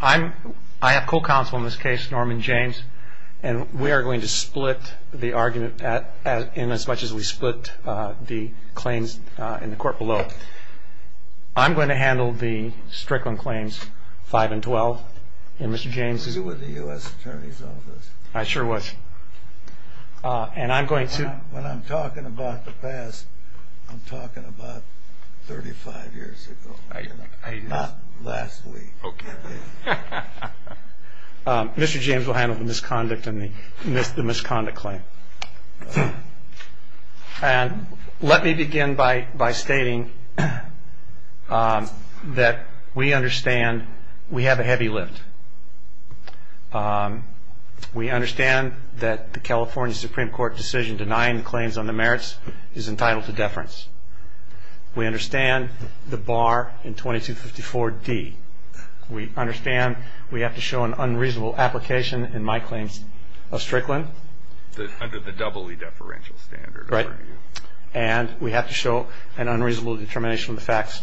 I have full counsel in this case, Norman James, and we are going to split the argument in as much as we split the claims in the court below. I'm going to handle the Strickland claims, 5 and 12, and Mr. James... We'll do it with the U.S. Attorney's Office. I sure wish. And I'm going to... When I'm talking about the past, I'm talking about 35 years ago, not last week. Mr. James will handle the misconduct and the misconduct claim. And let me begin by stating that we understand we have a heavy lift. We understand that the California Supreme Court decision denying the claims on the merits is entitled to deference. We understand the bar in 2254D. We understand we have to show an unreasonable application in my claims of Strickland. Under the doubly deferential standard. And we have to show an unreasonable determination of the facts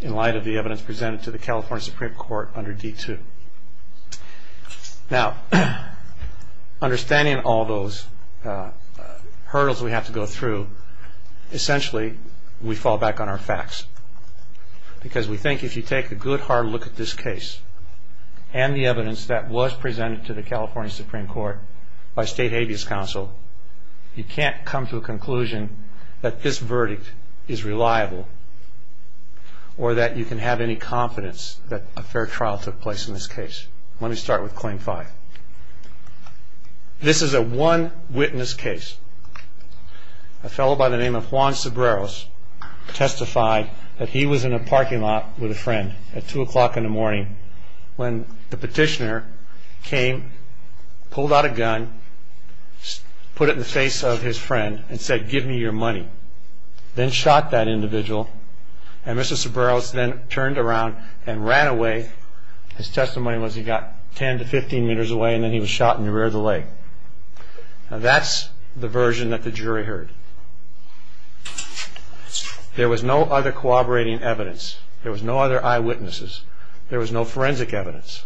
in light of the evidence presented to the California Supreme Court under D2. Now, understanding all those hurdles we have to go through, essentially we fall back on our facts. Because we think if you take a good hard look at this case and the evidence that was presented to the California Supreme Court by State Habeas Council, you can't come to a conclusion that this verdict is reliable or that you can have any confidence that a fair trial took place in this case. Let me start with claim 5. This is a one witness case. A fellow by the name of Juan Cebreros testified that he was in a parking lot with a friend at 2 o'clock in the morning when the petitioner came, pulled out a gun, put it in the face of his friend and said give me your money. Then shot that individual. And Mr. Cebreros then turned around and ran away. His testimony was he got 10 to 15 meters away and then he was shot in the rear of the leg. Now, that's the version that the jury heard. There was no other corroborating evidence. There was no other eyewitnesses. There was no forensic evidence.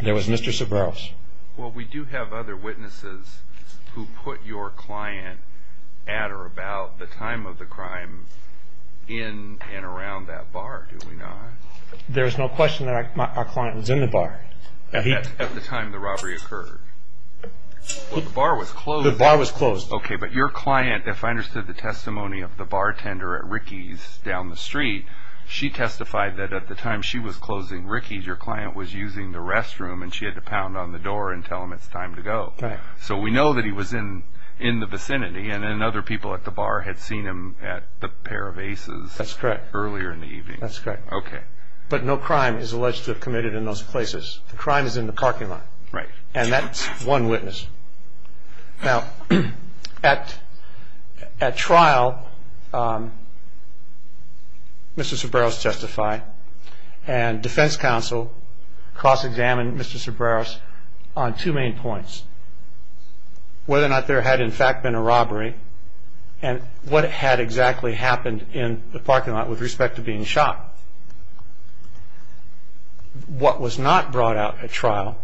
There was Mr. Cebreros. Well, we do have other witnesses who put your client at or about the time of the crime in and around that bar, do we not? There's no question that our client was in the bar. At the time the robbery occurred? The bar was closed. The bar was closed. Okay, but your client, if I understood the testimony of the bartender at Ricky's down the street, she testified that at the time she was closing Ricky's, your client was using the restroom and she had to pound on the door and tell him it's time to go. So we know that he was in the vicinity and then other people at the bar had seen him at the pair of Aces earlier in the evening. That's correct. Okay. But no crime is alleged to have committed in those places. The crime is in the parking lot. Right. And that's one witness. Now, at trial, Mr. Cebreros testified and defense counsel cross-examined Mr. Cebreros on two main points, whether or not there had in fact been a robbery and what had exactly happened in the parking lot with respect to being shot. What was not brought out at trial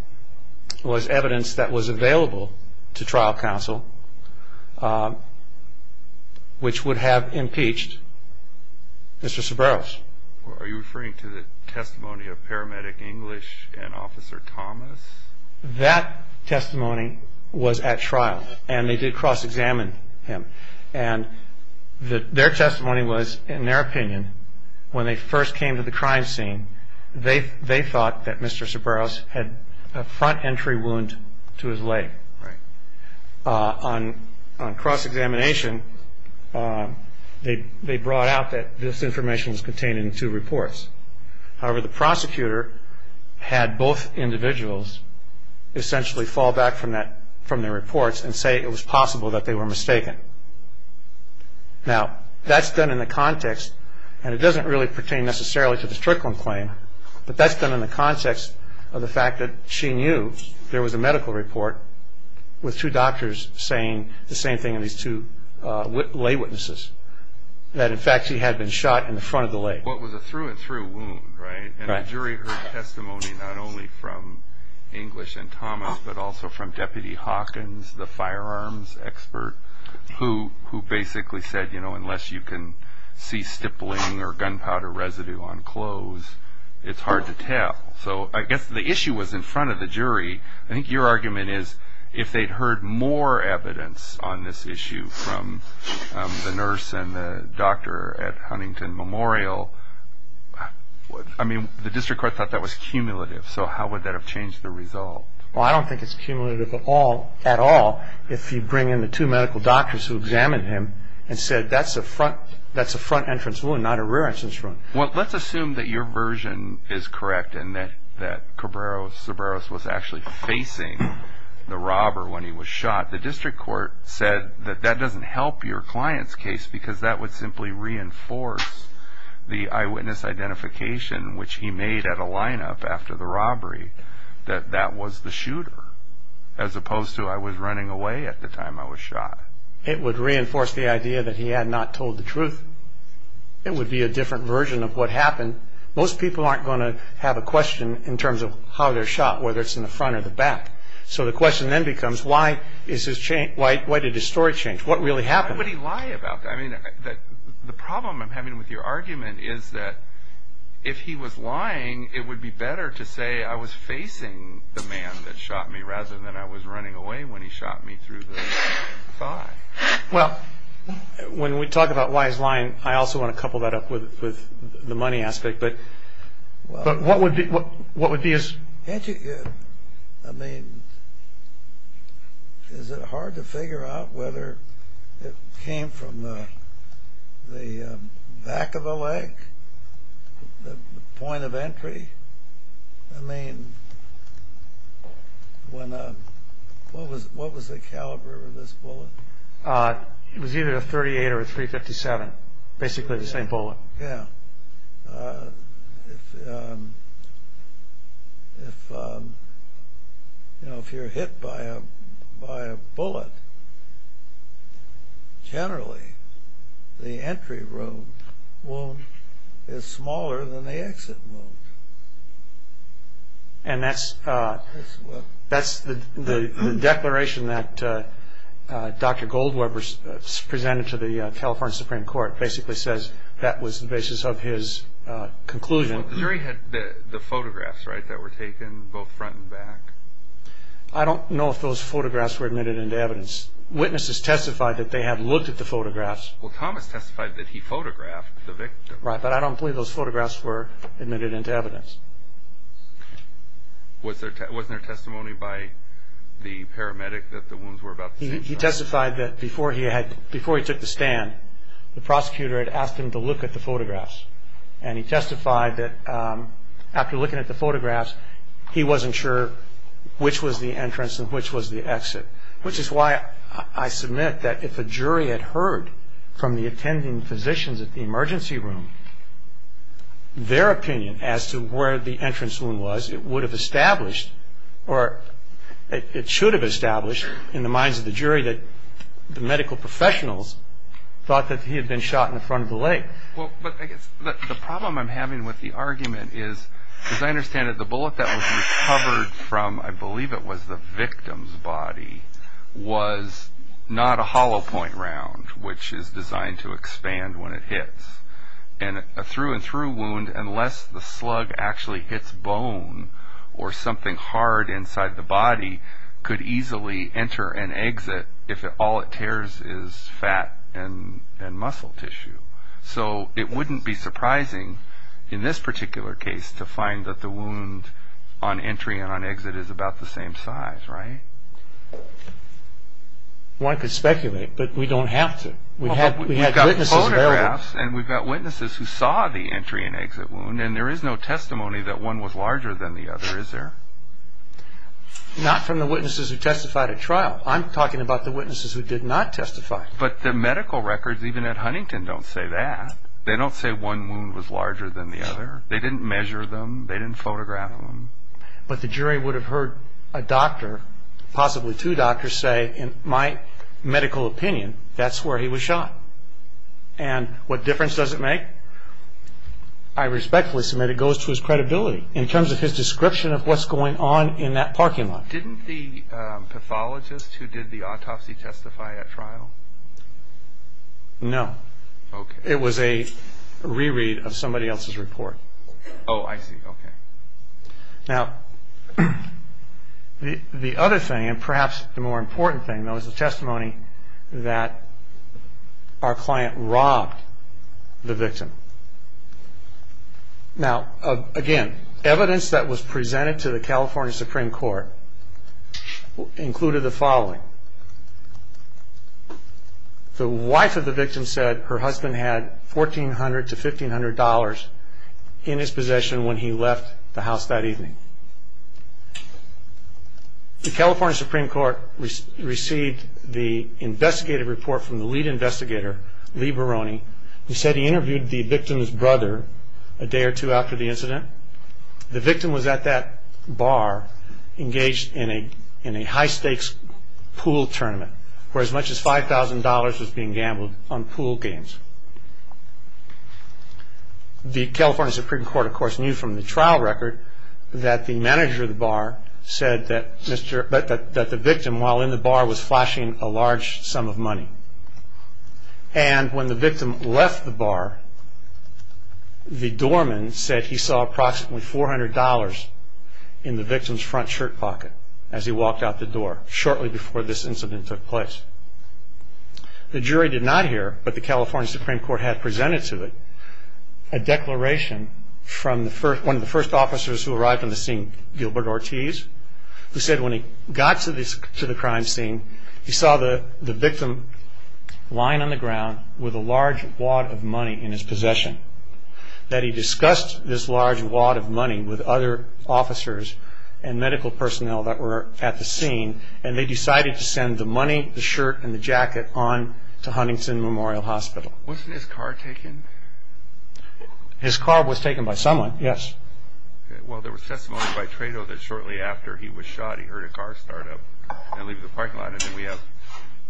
was evidence that was available to trial counsel, which would have impeached Mr. Cebreros. Are you referring to the testimony of paramedic English and Officer Thomas? That testimony was at trial and they did cross-examine him. And their testimony was, in their opinion, when they first came to the crime scene, they thought that Mr. Cebreros had a front entry wound to his leg. Right. On cross-examination, they brought out that this information was contained in two reports. However, the prosecutor had both individuals essentially fall back from their reports and say it was possible that they were mistaken. Now, that's done in the context, and it doesn't really pertain necessarily to the Strickland claim, but that's done in the context of the fact that she knew there was a medical report with two doctors saying the same thing as these two lay witnesses, that in fact he had been shot in the front of the leg. What was a through-and-through wound, right? And a jury heard testimony not only from English and Thomas, but also from Deputy Hawkins, the firearms expert, who basically said, you know, unless you can see stippling or gunpowder residue on clothes, it's hard to tell. So I guess the issue was in front of the jury. I think your argument is if they'd heard more evidence on this issue from the nurse and the doctor at Huntington Memorial, I mean, the district court thought that was cumulative, so how would that have changed the result? Well, I don't think it's cumulative at all if you bring in the two medical doctors who examined him and said that's a front-entrance wound, not a rear-entrance wound. Well, let's assume that your version is correct and that Cabrera-Cebarros was actually facing the robber when he was shot. The district court said that that doesn't help your client's case because that would simply reinforce the eyewitness identification, which he made at a lineup after the robbery, that that was the shooter, as opposed to I was running away at the time I was shot. It would reinforce the idea that he had not told the truth. It would be a different version of what happened. Most people aren't going to have a question in terms of how they're shot, whether it's in the front or the back. So the question then becomes why did his story change? What really happened? How could he lie about that? I mean, the problem I'm having with your argument is that if he was lying, it would be better to say I was facing the man that shot me rather than I was running away when he shot me through the thigh. Well, when we talk about why he's lying, I also want to couple that up with the money aspect, but what would be his— I mean, is it hard to figure out whether it came from the back of the leg, the point of entry? I mean, what was the caliber of this bullet? It was either .38 or .357, basically the same bullet. Oh, yeah. If you're hit by a bullet, generally the entry wound is smaller than the exit wound. And that's the declaration that Dr. Goldwer presented to the California Supreme Court. It basically says that was the basis of his conclusion. The jury had the photographs, right, that were taken, both front and back? I don't know if those photographs were admitted into evidence. Witnesses testified that they had looked at the photographs. Well, Thomas testified that he photographed the victim. Right, but I don't believe those photographs were admitted into evidence. Wasn't there testimony by the paramedic that the wounds were about the same size? He testified that before he took the stand, the prosecutor had asked him to look at the photographs. And he testified that after looking at the photographs, he wasn't sure which was the entrance and which was the exit, which is why I submit that if a jury had heard from the attending physicians at the emergency room, their opinion as to where the entrance wound was, it would have established or it should have established in the minds of the jury that the medical professionals thought that he had been shot in front of the leg. Well, but the problem I'm having with the argument is, as I understand it, the bullet that was recovered from, I believe it was the victim's body, was not a hollow point round, which is designed to expand when it hits. And a through and through wound, unless the slug actually hits bone or something hard inside the body, could easily enter and exit if all it tears is fat and muscle tissue. So it wouldn't be surprising in this particular case to find that the wound on entry and on exit is about the same size, right? One could speculate, but we don't have to. We've got photographs and we've got witnesses who saw the entry and exit wound, and there is no testimony that one was larger than the other, is there? Not from the witnesses who testified at trial. I'm talking about the witnesses who did not testify. But the medical records, even at Huntington, don't say that. They don't say one wound was larger than the other. They didn't measure them. They didn't photograph them. But the jury would have heard a doctor, possibly two doctors, say, in my medical opinion, that's where he was shot. And what difference does it make? I respectfully submit it goes to his credibility in terms of his description of what's going on in that parking lot. Didn't the pathologist who did the autopsy testify at trial? No. Okay. It was a reread of somebody else's report. Oh, I see. Okay. Now, the other thing, and perhaps the more important thing, though, is the testimony that our client robbed the victim. Now, again, evidence that was presented to the California Supreme Court included the following. The wife of the victim said her husband had $1,400 to $1,500 in his possession when he left the house that evening. The California Supreme Court received the investigative report from the lead investigator, Lee Barone, who said he interviewed the victim's brother a day or two after the incident. The victim was at that bar engaged in a high-stakes pool tournament where as much as $5,000 was being gambled on pool games. The California Supreme Court, of course, knew from the trial record that the manager of the bar said that the victim, while in the bar, was flashing a large sum of money. And when the victim left the bar, the doorman said he saw approximately $400 in the victim's front shirt pocket as he walked out the door shortly before this incident took place. The jury did not hear what the California Supreme Court had presented to it, a declaration from one of the first officers who arrived on the scene, Gilbert Ortiz, who said when he got to the crime scene, he saw the victim lying on the ground with a large wad of money in his possession, that he discussed this large wad of money with other officers and medical personnel that were at the scene and they decided to send the money, the shirt, and the jacket on to Huntington Memorial Hospital. Was his car taken? His car was taken by someone, yes. Well, there was testimony by Trado that shortly after he was shot, he heard a car start up and leave the parking lot and then we have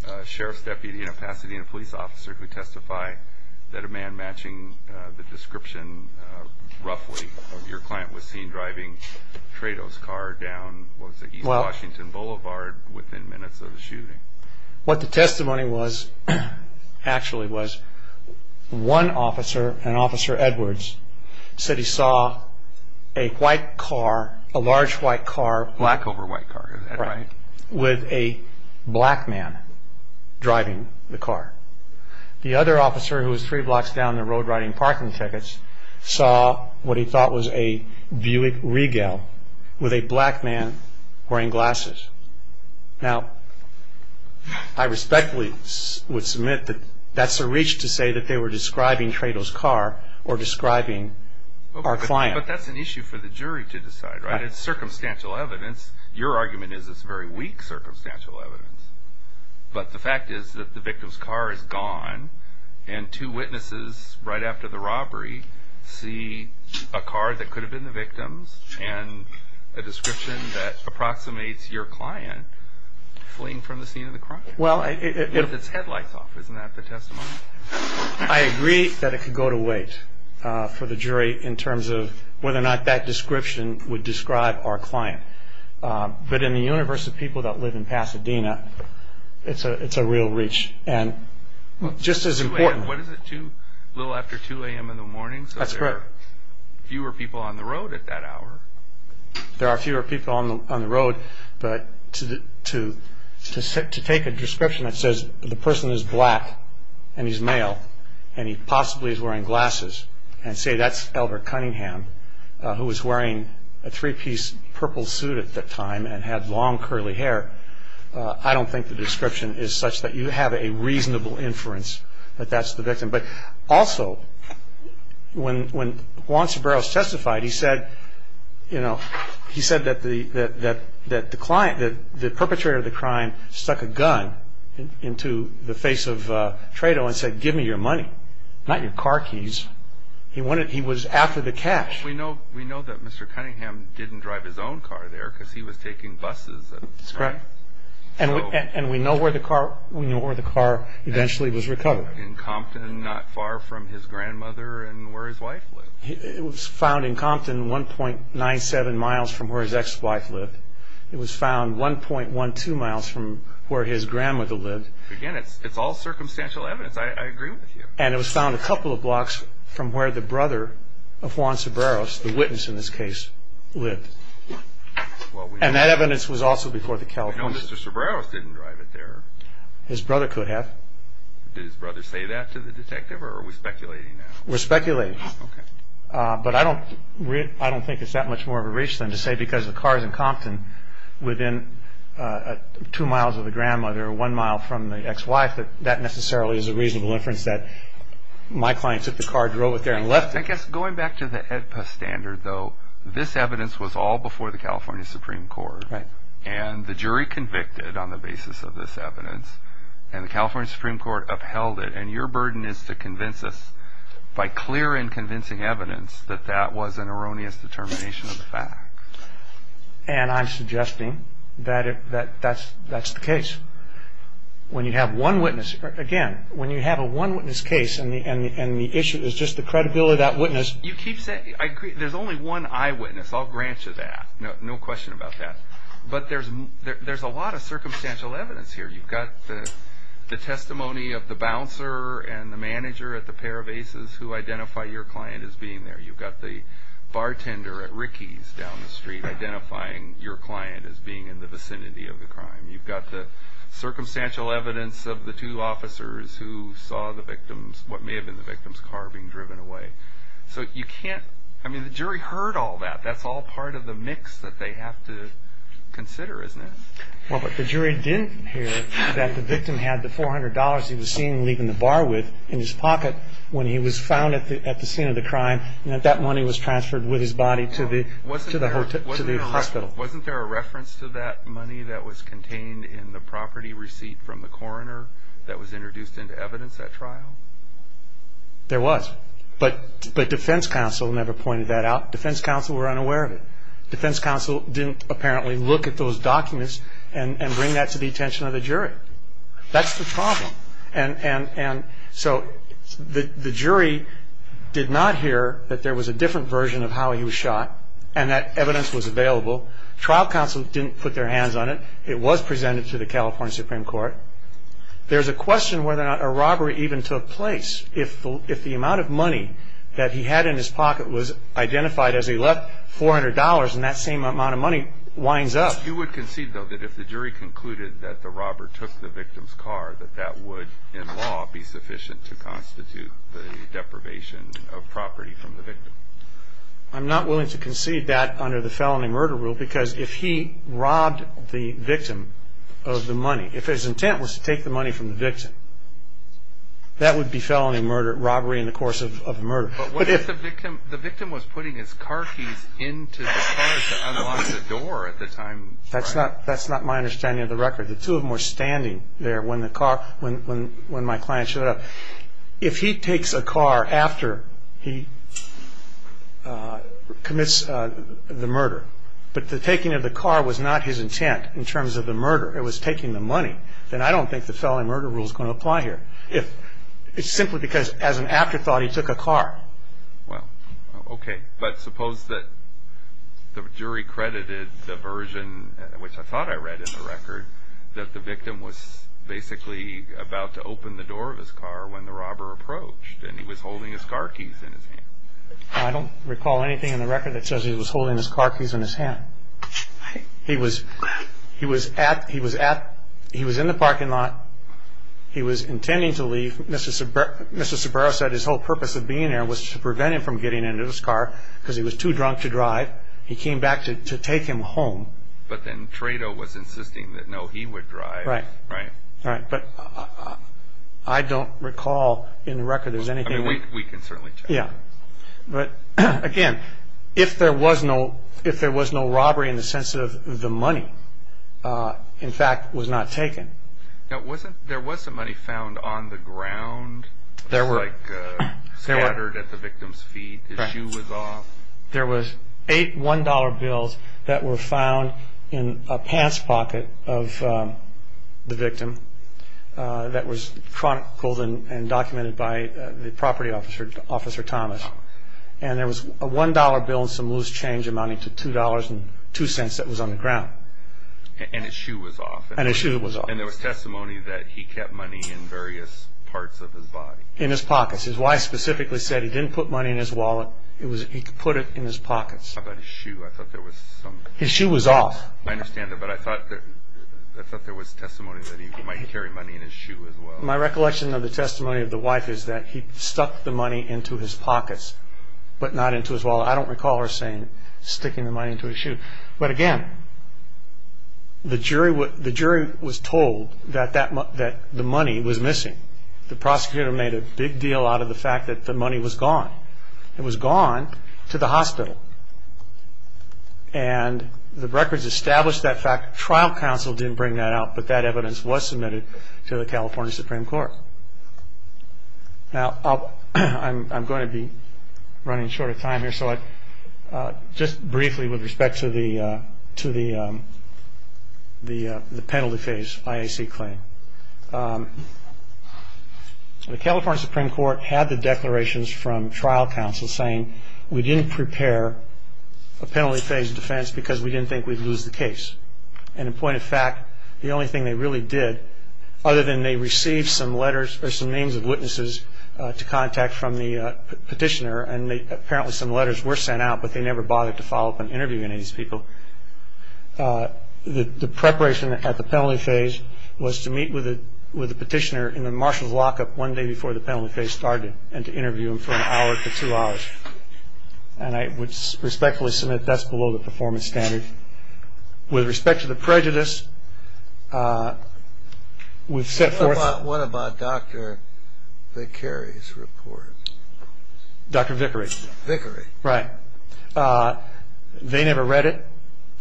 a sheriff's deputy and a Pasadena police officer who testify that a man matching the description, roughly, of your client was seen driving Trado's car down to East Washington Boulevard within minutes of the shooting. What the testimony was, actually, was one officer, an officer Edwards, said he saw a white car, a large white car, black over white car, with a black man driving the car. The other officer, who was three blocks down the road riding parking tickets, saw what he thought was a Buick Regal with a black man wearing glasses. Now, I respectfully would submit that that's a reach to say that they were describing Trado's car or describing our client. But that's an issue for the jury to decide, right? It's circumstantial evidence. Your argument is it's very weak circumstantial evidence, but the fact is that the victim's car is gone and two witnesses right after the robbery see a car that could have been the victim's and a description that approximates your client fleeing from the scene of the crime. It puts its headlights off. Isn't that the testimony? I agree that it could go to wait for the jury in terms of whether or not that description would describe our client. But in the universe of people that live in Pasadena, it's a real reach. What is it, a little after 2 a.m. in the morning, so there are fewer people on the road at that hour? There are fewer people on the road, but to take a description that says the person is black and he's male and he possibly is wearing glasses and say that's Elbert Cunningham, who was wearing a three-piece purple suit at the time and had long curly hair, I don't think the description is such that you have a reasonable inference that that's the victim. But also, when Juan Ceballos testified, he said that the perpetrator of the crime stuck a gun into the face of Tredo and said, give me your money, not your car keys. He was after the cash. We know that Mr. Cunningham didn't drive his own car there because he was taking buses. And we know where the car eventually was recovered. In Compton, not far from his grandmother and where his wife lived. It was found in Compton, 1.97 miles from where his ex-wife lived. It was found 1.12 miles from where his grandmother lived. Again, it's all circumstantial evidence. I agree with you. And it was found a couple of blocks from where the brother of Juan Ceballos, the witness in this case, lived. And that evidence was also before the California... No, Mr. Ceballos didn't drive it there. His brother could have. Did his brother say that to the detective or are we speculating that? We're speculating. Okay. But I don't think it's that much more of a reach than to say because the car is in Compton, within two miles of the grandmother or one mile from the ex-wife, that that necessarily is a reasonable inference that my client took the car, drove it there and left it. I guess going back to the AEDPA standard, though, this evidence was all before the California Supreme Court. Right. And the jury convicted on the basis of this evidence. And the California Supreme Court upheld it. And your burden is to convince us by clear and convincing evidence that that was an erroneous determination of the fact. And I'm suggesting that that's the case. When you have one witness, again, when you have a one witness case and the issue is just the credibility of that witness. There's only one eyewitness. I'll grant you that. No question about that. But there's a lot of circumstantial evidence here. You've got the testimony of the bouncer and the manager at the pair of aces who identify your client as being there. You've got the bartender at Ricky's down the street identifying your client as being in the vicinity of the crime. You've got the circumstantial evidence of the two officers who saw the victims, what may have been the victims' car being driven away. So you can't – I mean, the jury heard all that. That's all part of the mix that they have to consider, isn't it? Well, but the jury didn't hear that the victim had the $400 he was seen leaving the bar with in his pocket when he was found at the scene of the crime. And that money was transferred with his body to the hospital. Wasn't there a reference to that money that was contained in the property receipt from the coroner that was introduced into evidence at trial? There was. But the defense counsel never pointed that out. Defense counsel were unaware of it. Defense counsel didn't apparently look at those documents and bring that to the attention of the jury. That's the problem. And so the jury did not hear that there was a different version of how he was shot and that evidence was available. Trial counsel didn't put their hands on it. It was presented to the California Supreme Court. There's a question whether or not a robbery even took place. If the amount of money that he had in his pocket was identified as he left $400 and that same amount of money winds up. You would concede, though, that if the jury concluded that the robber took the victim's car, that that would in law be sufficient to constitute the deprivation of property from the victim. I'm not willing to concede that under the felony murder rule, because if he robbed the victim of the money, if his intent was to take the money from the victim. That would be felony murder robbery in the course of a murder. The victim was putting his car keys into the door at the time. That's not that's not my understanding of the record. The two of them were standing there when the car when when my client showed up, if he takes a car after he commits the murder. But the taking of the car was not his intent in terms of the murder. It was taking the money. And I don't think the felony murder rule is going to apply here. If it's simply because as an afterthought, he took a car. Well, OK, but suppose that the jury credited the version, which I thought I read in the record, that the victim was basically about to open the door of his car when the robber approached and he was holding his car keys. I don't recall anything in the record that says he was holding his car keys in his hand. He was he was at he was at he was in the parking lot. He was intending to leave. Mr. Mr. Barrow said his whole purpose of being there was to prevent him from getting into this car because he was too drunk to drive. He came back to take him home. But then Trado was insisting that, no, he would drive. Right. Right. Right. But I don't recall in the record. There's anything we can certainly. Yeah. But again, if there was no if there was no robbery in the sense of the money, in fact, was not taken. Now, wasn't there was some money found on the ground. There were scattered at the victim's feet. The shoe was off. There was eight one dollar bills that were found in a passpocket of the victim that was pulled in and documented by the property officer, Officer Thomas. And there was a one dollar bill, some loose change amounting to two dollars and two cents that was on the ground. And his shoe was off. And his shoe was off. And there was testimony that he kept money in various parts of his body. In his pockets. His wife specifically said he didn't put money in his wallet. It was he put it in his pockets. About his shoe. I thought there was some. His shoe was off. I understand that. But I thought that there was testimony that he might carry money in his shoe as well. My recollection of the testimony of the wife is that he stuck the money into his pockets, but not into his wallet. I don't recall her saying sticking the money into his shoe. But again, the jury was told that the money was missing. The prosecutor made a big deal out of the fact that the money was gone. It was gone to the hospital. And the records established that fact. Trial counsel didn't bring that out, but that evidence was submitted to the California Supreme Court. Now, I'm going to be running short of time here. So just briefly with respect to the penalty phase IAC claim. The California Supreme Court had the declarations from trial counsel saying we didn't prepare a penalty phase defense because we didn't think we'd lose the case. And in point of fact, the only thing they really did, other than they received some letters or some names of witnesses to contact from the petitioner, and apparently some letters were sent out, but they never bothered to follow up on interviewing any of these people. The preparation at the penalty phase was to meet with the petitioner in the marshal's lockup one day before the penalty phase started and to interview him for an hour to two hours. And I would respectfully submit that's below the performance standard. With respect to the prejudice, we've set forth- What about Dr. Vickery's report? Dr. Vickery. Vickery. Right. They never read it.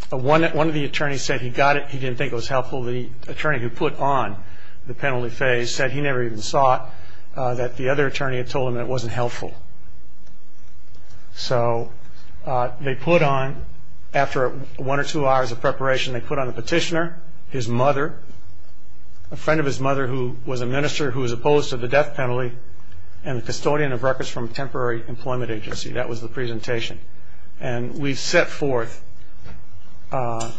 One of the attorneys said he got it. He didn't think it was helpful. The attorney who put on the penalty phase said he never even saw it, that the other attorney had told him it wasn't helpful. So they put on, after one or two hours of preparation, they put on a petitioner, his mother, a friend of his mother who was a minister who was opposed to the death penalty, and a custodian of records from a temporary employment agency. That was the presentation. And we've set forth the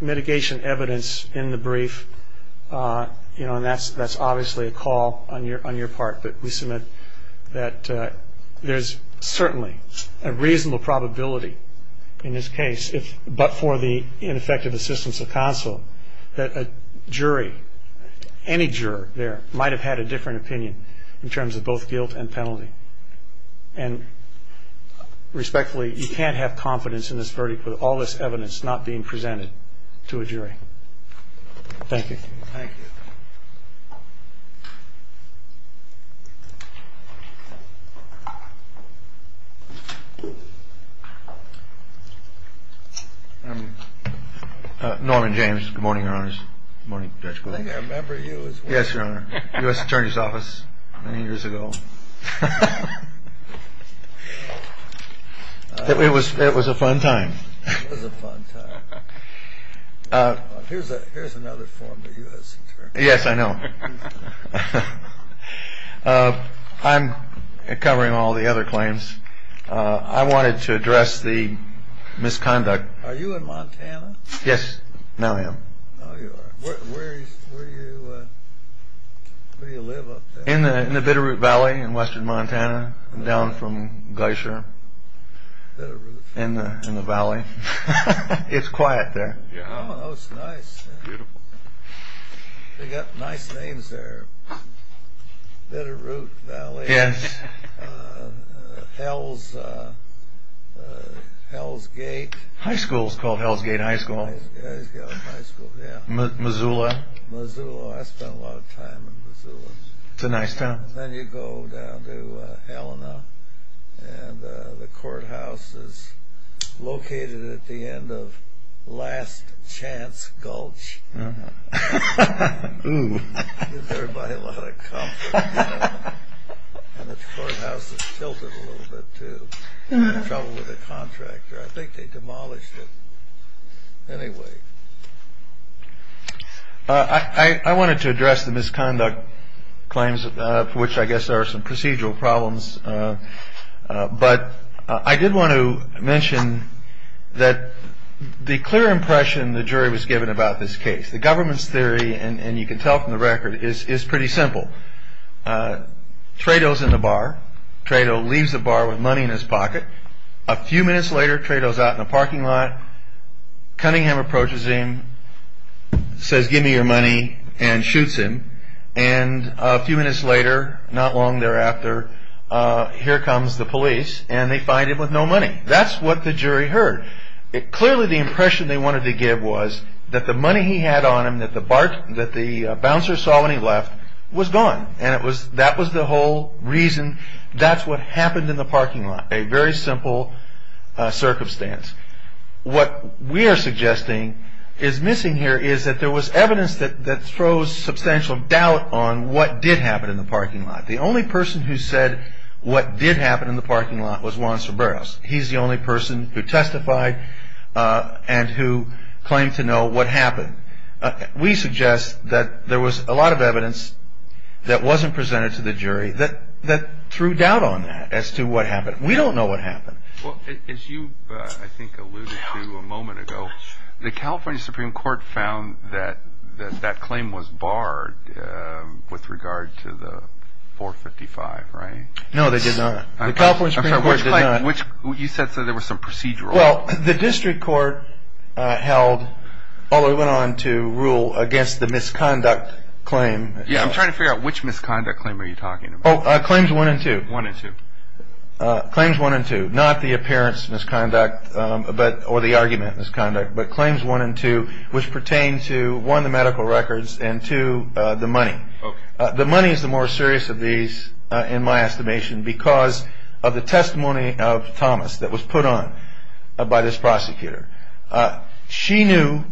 mitigation evidence in the brief, and that's obviously a call on your part that we submit that there's certainly a reasonable probability in this case, but for the ineffective assistance of counsel, that a jury, any juror there, might have had a different opinion in terms of both guilt and penalty. And respectfully, you can't have confidence in this verdict with all this evidence not being presented to a jury. Thank you. Thank you. Norman James. Good morning, Your Honors. Good morning, Judge. I remember you. Yes, Your Honor. I was in the U.S. Attorney's Office many years ago. It was a fun time. It was a fun time. Here's another form of U.S. Attorney. Yes, I know. I'm covering all the other claims. I wanted to address the misconduct. Are you in Montana? Yes, now I am. Where do you live up there? In the Bitterroot Valley in western Montana, down from Geyser. Bitterroot. In the valley. It's quiet there. Oh, it's nice. They've got nice names there. Bitterroot Valley. Yes. Hell's Gate. High school is called Hell's Gate High School. Hell's Gate High School, yes. Missoula. Missoula. I spent a lot of time in Missoula. It's a nice town. Then you go down to Helena, and the courthouse is located at the end of Last Chance Gulch. Oh. It gives everybody a lot of comfort. And the courthouse is tilted a little bit, too. I had trouble with a contractor. I think they demolished it. Anyway. I wanted to address the misconduct claims, for which I guess there are some procedural problems. But I did want to mention that the clear impression the jury was given about this case, the government's theory, and you can tell from the record, is pretty simple. Trayto's in the bar. Trayto leaves the bar with money in his pocket. A few minutes later, Trayto's out in the parking lot. Cunningham approaches him, says, give me your money, and shoots him. And a few minutes later, not long thereafter, here comes the police, and they find him with no money. That's what the jury heard. Clearly, the impression they wanted to give was that the money he had on him that the bouncer saw when he left was gone. And that was the whole reason. That's what happened in the parking lot. A very simple circumstance. What we are suggesting is missing here is that there was evidence that throws substantial doubt on what did happen in the parking lot. The only person who said what did happen in the parking lot was Juan Cerberus. He's the only person who testified and who claimed to know what happened. We suggest that there was a lot of evidence that wasn't presented to the jury that threw doubt on that as to what happened. We don't know what happened. Well, as you, I think, alluded to a moment ago, the California Supreme Court found that that claim was barred with regard to the 455, right? No, they did not. The California Supreme Court did not. You said there was some procedural. Well, the district court held, although it went on to rule against the misconduct claim. Yeah, I'm trying to figure out which misconduct claim are you talking about? Claims one and two. One and two. Claims one and two. Not the appearance misconduct or the argument misconduct, but claims one and two, which pertain to one, the medical records, and two, the money. The money is the more serious of these, in my estimation, because of the testimony of Thomas that was put on by this prosecutor. She knew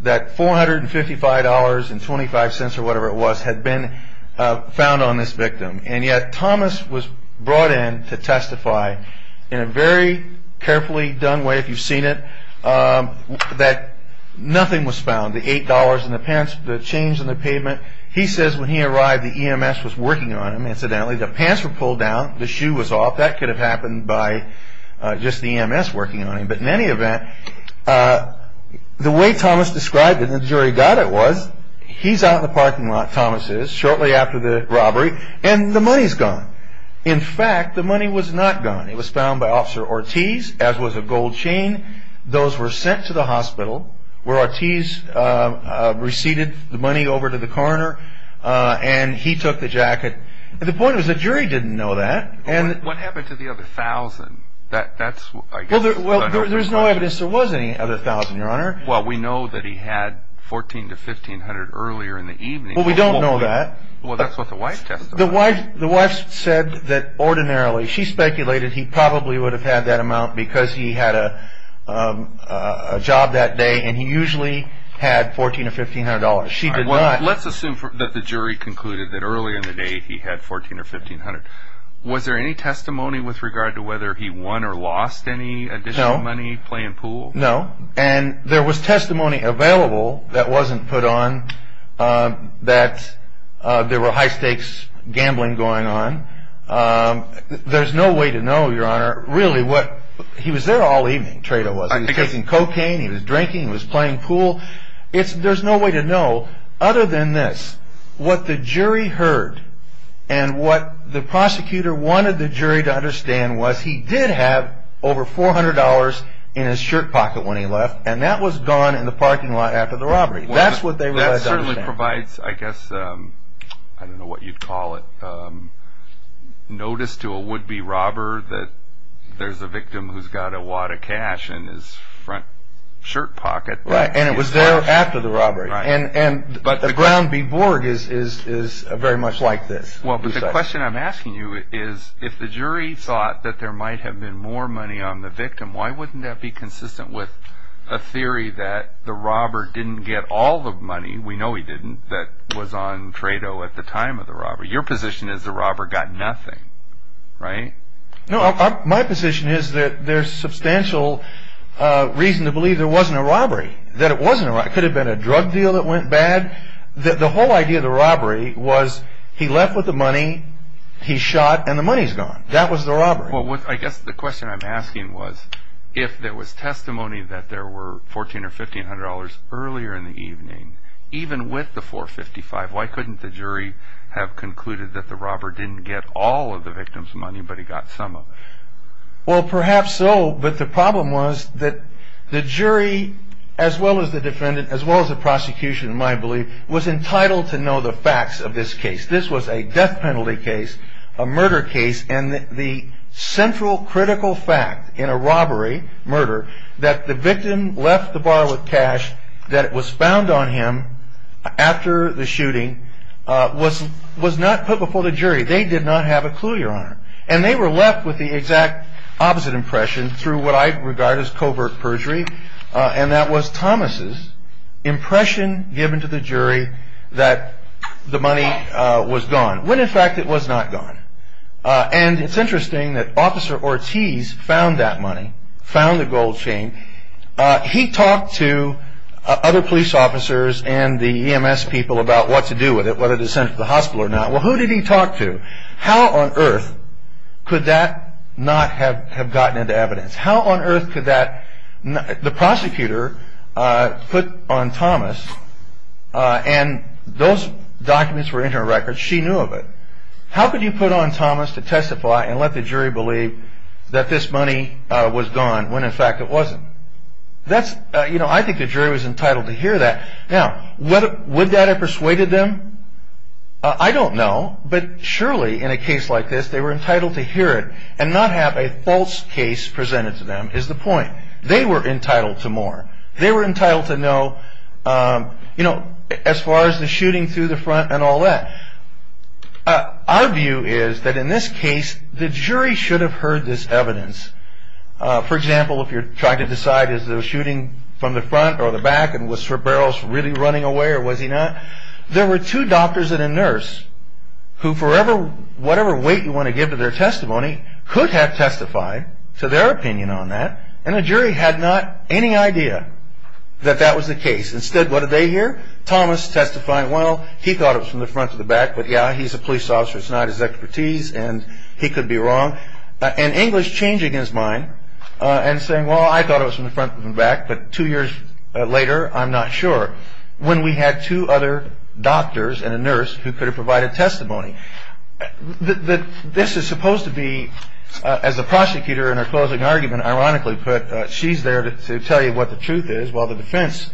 that $455.25 or whatever it was had been found on this victim, and yet Thomas was brought in to testify in a very carefully done way, if you've seen it, that nothing was found, the $8 in the pants, the chains on the pavement. He says when he arrived, the EMS was working on him, incidentally. The pants were pulled down. The shoe was off. That could have happened by just the EMS working on him, but in any event, the way Thomas described it and the jury got it was, he's out in the parking lot, Thomas is, shortly after the robbery, and the money's gone. In fact, the money was not gone. It was found by Officer Ortiz, as was a gold chain. Those were sent to the hospital, where Ortiz receded the money over to the coroner, and he took the jacket. The point was the jury didn't know that. What happened to the other $1,000? There's no evidence there was any other $1,000, Your Honor. Well, we know that he had $1,400 to $1,500 earlier in the evening. Well, we don't know that. Well, that's what the wife testified. The wife said that ordinarily, she speculated he probably would have had that amount because he had a job that day, and he usually had $1,400 or $1,500. Let's assume that the jury concluded that early in the day he had $1,400 or $1,500. Was there any testimony with regard to whether he won or lost any additional money playing pool? No. And there was testimony available that wasn't put on that there were high-stakes gambling going on. There's no way to know, Your Honor. Really, he was there all evening, Trayto was. He was taking cocaine. He was drinking. He was playing pool. There's no way to know other than this. What the jury heard and what the prosecutor wanted the jury to understand was he did have over $400 in his shirt pocket when he left, and that was gone in the parking lot after the robbery. That's what they were trying to understand. That certainly provides, I guess, I don't know what you'd call it, notice to a would-be robber that there's a victim who's got a wad of cash in his front shirt pocket. Right, and it was there after the robbery. And the ground being Borg is very much like this. Well, the question I'm asking you is if the jury thought that there might have been more money on the victim, why wouldn't that be consistent with a theory that the robber didn't get all the money, we know he didn't, that was on Trayto at the time of the robbery? Your position is the robber got nothing, right? No, my position is that there's substantial reason to believe there wasn't a robbery, that it wasn't a robbery. He had a drug deal that went bad. The whole idea of the robbery was he left with the money, he shot, and the money's gone. That was the robbery. Well, I guess the question I'm asking was if there was testimony that there were $1,400 or $1,500 earlier in the evening, even with the $455, why couldn't the jury have concluded that the robber didn't get all of the victim's money but he got some of it? Well, perhaps so, but the problem was that the jury, as well as the defendant, as well as the prosecution, in my belief, was entitled to know the facts of this case. This was a death penalty case, a murder case, and the central critical fact in a robbery, murder, that the victim left the bottle of cash that was found on him after the shooting was not put before the jury. And they were left with the exact opposite impression through what I regard as covert perjury, and that was Thomas' impression given to the jury that the money was gone, when in fact it was not gone. And it's interesting that Officer Ortiz found that money, found the gold chain. He talked to other police officers and the EMS people about what to do with it, whether to send it to the hospital or not. Well, who did he talk to? How on earth could that not have gotten into evidence? How on earth could that, the prosecutor put on Thomas, and those documents were in her records, she knew of it. How could you put on Thomas to testify and let the jury believe that this money was gone when in fact it wasn't? That's, you know, I think the jury was entitled to hear that. Now, would that have persuaded them? I don't know, but surely in a case like this, they were entitled to hear it and not have a false case presented to them is the point. They were entitled to more. They were entitled to know, you know, as far as the shooting through the front and all that. Our view is that in this case, the jury should have heard this evidence. For example, if you're trying to decide is the shooting from the front or the back and was Sir Barrows really running away or was he not? There were two doctors and a nurse who for whatever weight you want to give to their testimony could have testified to their opinion on that, and the jury had not any idea that that was the case. Instead, what did they hear? Thomas testifying, well, he thought it was from the front or the back, but yeah, he's a police officer. It's not his expertise, and he could be wrong. And English changing his mind and saying, well, I thought it was from the front or the back, but two years later, I'm not sure. When we had two other doctors and a nurse who could have provided testimony. This is supposed to be, as the prosecutor in her closing argument ironically put, she's there to tell you what the truth is, while the defense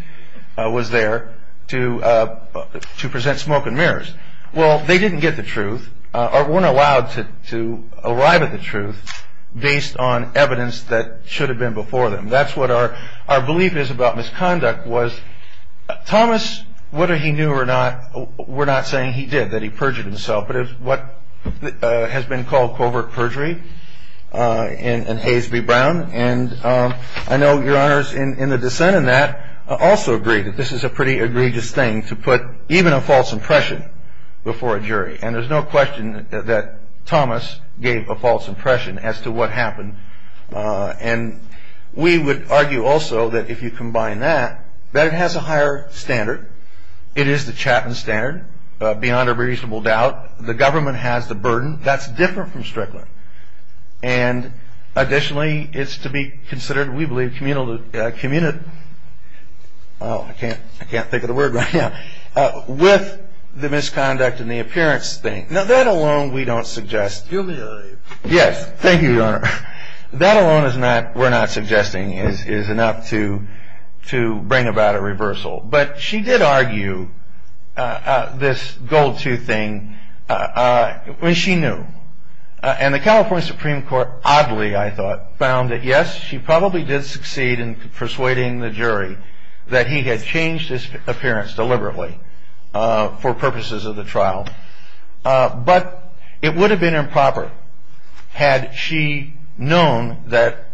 was there to present smoke and mirrors. Well, they didn't get the truth or weren't allowed to arrive at the truth based on evidence that should have been before them. And that's what our belief is about misconduct, was Thomas, whether he knew or not, we're not saying he did, that he perjured himself. But it's what has been called covert perjury in Hays v. Brown. And I know your honors in the dissent in that also agree that this is a pretty egregious thing to put even a false impression before a jury. And there's no question that Thomas gave a false impression as to what happened. And we would argue also that if you combine that, that has a higher standard. It is the Chapman standard, beyond a reasonable doubt. The government has the burden. That's different from strickling. And additionally, it's to be considered, we believe, communal to community. Oh, I can't think of the word right now. With the misconduct and the appearance thing. Now, that alone we don't suggest. Yes, thank you, your honor. That alone we're not suggesting is enough to bring about a reversal. But she did argue this gold tooth thing when she knew. And the California Supreme Court, oddly, I thought, found that, yes, she probably did succeed in persuading the jury that he had changed his appearance deliberately for purposes of the trial. But it would have been improper had she known that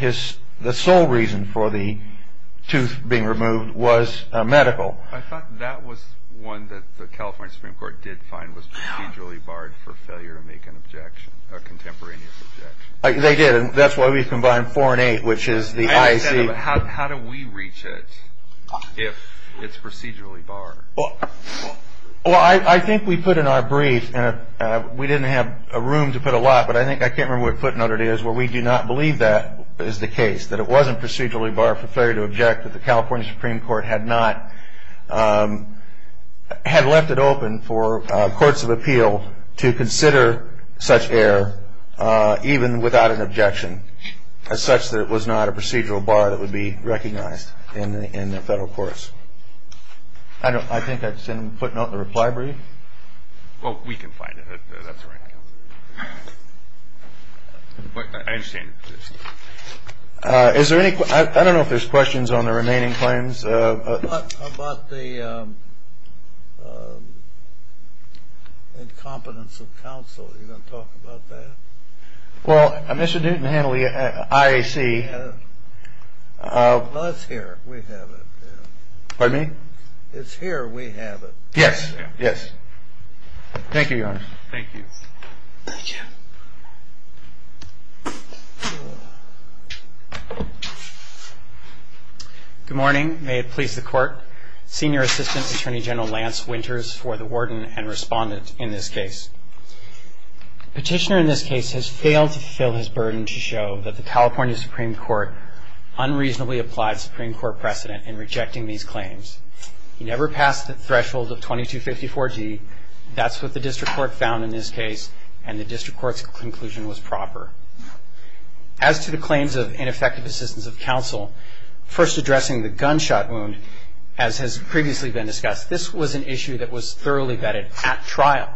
the sole reason for the tooth being removed was medical. I thought that was one that the California Supreme Court did find was procedurally barred for failure to make an objection, a contemporaneous objection. They did, and that's why we've combined four and eight, which is the IAC. How do we reach it if it's procedurally barred? Well, I think we put in our brief, and we didn't have room to put a lot, but I think, I can't remember what footnote it is, but we do not believe that is the case, that it wasn't procedurally barred for failure to object, that the California Supreme Court had not, had left it open for courts of appeal to consider such error, even without an objection, such that it was not a procedural bar that would be recognized in the federal courts. I think that's in the footnote in the reply brief. Oh, we can find it, that's all right. Is there any, I don't know if there's questions on the remaining claims. How about the competence of counsel, are you going to talk about that? Well, Mr. Dutton handled the IAC. Well, it's here, we have it. Pardon me? It's here, we have it. Yes, yes. Thank you, Your Honor. Thank you. Good morning. May it please the Court. Senior Assistant Attorney General Lance Winters for the Warden and Respondents in this case. Petitioner in this case has failed to fill his burden to show that the California Supreme Court unreasonably applied Supreme Court precedent in rejecting these claims. He never passed the threshold of 2254-D, that's what the district court found in this case, and the district court's conclusion was proper. As to the claims of ineffective assistance of counsel, first addressing the gunshot wound, as has previously been discussed, this was an issue that was thoroughly vetted at trial.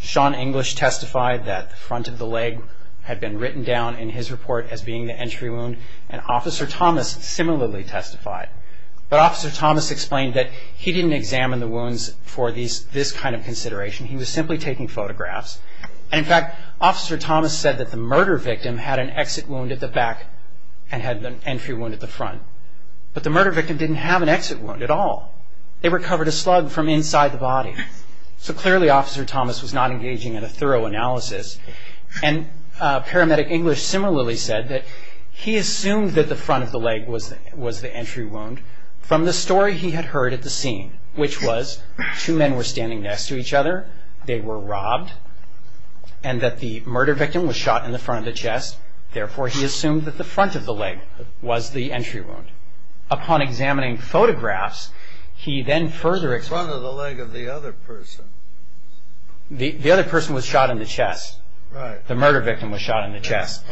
Sean English testified that the front of the leg had been written down in his report as being the entry wound and Officer Thomas similarly testified. But Officer Thomas explained that he didn't examine the wounds for this kind of consideration, he was simply taking photographs. In fact, Officer Thomas said that the murder victim had an exit wound at the back and had an entry wound at the front. But the murder victim didn't have an exit wound at all. It recovered a slug from inside the body. So clearly Officer Thomas was not engaging in a thorough analysis. And Paramedic English similarly said that he assumed that the front of the leg was the entry wound from the story he had heard at the scene, which was two men were standing next to each other, they were robbed, and that the murder victim was shot in the front of the chest. Therefore, he assumed that the front of the leg was the entry wound. Upon examining photographs, he then further explained... The front of the leg of the other person. The other person was shot in the chest. The murder victim was shot in the chest.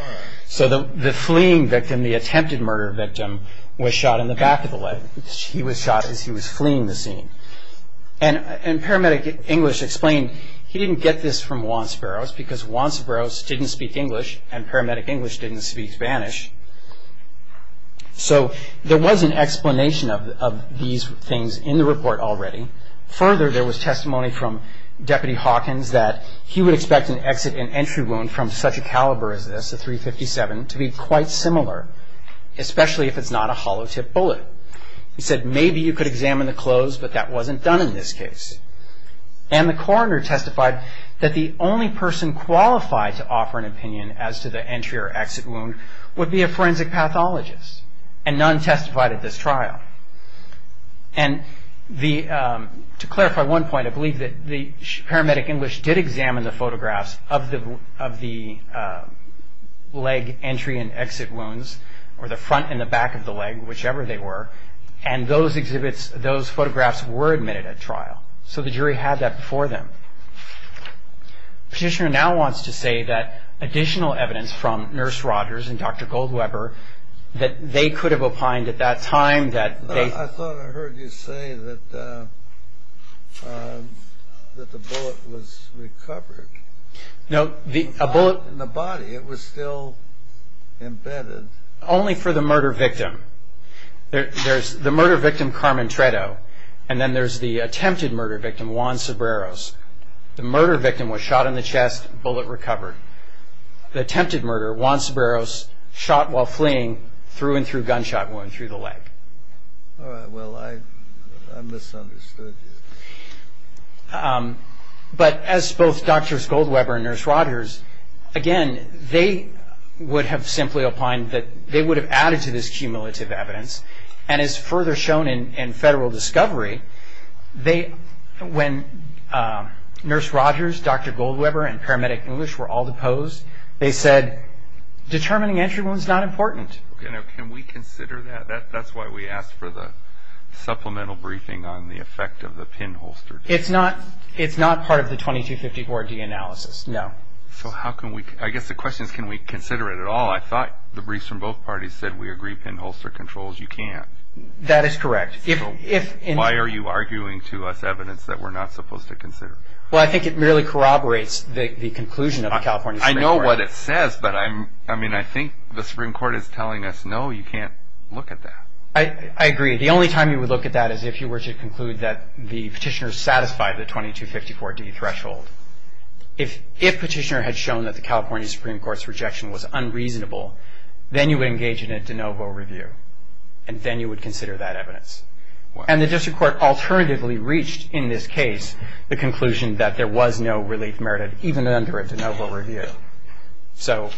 So the fleeing victim, the attempted murder victim, was shot in the back of the leg. He was shot as he was fleeing the scene. And Paramedic English explained he didn't get this from Juan Sparrows because Juan Sparrows didn't speak English and Paramedic English didn't speak Spanish. So there was an explanation of these things in the report already. Further, there was testimony from Deputy Hawkins that he would expect an exit and entry wound from such a caliber as this, a .357, to be quite similar, especially if it's not a hollow-tipped bullet. He said maybe you could examine the clothes, but that wasn't done in this case. And the coroner testified that the only person qualified to offer an opinion as to the entry or exit wound would be a forensic pathologist. And none testified at this trial. And to clarify one point, I believe that Paramedic English did examine the photographs of the leg entry and exit wounds, or the front and the back of the leg, whichever they were, and those exhibits, those photographs were admitted at trial. So the jury had that before them. Petitioner now wants to say that additional evidence from Nurse Rogers and Dr. Goldweber that they could have opined at that time that they... I thought I heard you say that the bullet was recovered. No, the bullet... In the body, it was still embedded. Only for the murder victim. There's the murder victim, Carmen Tredo, and then there's the attempted murder victim, Juan Cebreros. The murder victim was shot in the chest, bullet recovered. The attempted murder, Juan Cebreros, shot while fleeing, threw and threw gunshot wound through the leg. Well, I misunderstood you. But as both Drs. Goldweber and Nurse Rogers, again, they would have simply opined that they would have added to this cumulative evidence, and as further shown in federal discovery, when Nurse Rogers, Dr. Goldweber, and paramedic English were all deposed, they said determining entry wounds is not important. Can we consider that? That's why we asked for the supplemental briefing on the effect of the pinholster. It's not part of the 2254-D analysis, no. So how can we... I guess the question is can we consider it at all? I thought the briefs from both parties said we agree pinholster controls, you can't. That is correct. Why are you arguing to us evidence that we're not supposed to consider? Well, I think it merely corroborates the conclusion of the California Supreme Court. I know what it says, but I think the Supreme Court is telling us, no, you can't look at that. I agree. The only time you would look at that is if you were to conclude that the petitioner satisfied the 2254-D threshold. If petitioner had shown that the California Supreme Court's rejection was unreasonable, then you would engage in a de novo review, and then you would consider that evidence. And the district court alternatively reached, in this case, the conclusion that there was no relief merited, even under a de novo review. So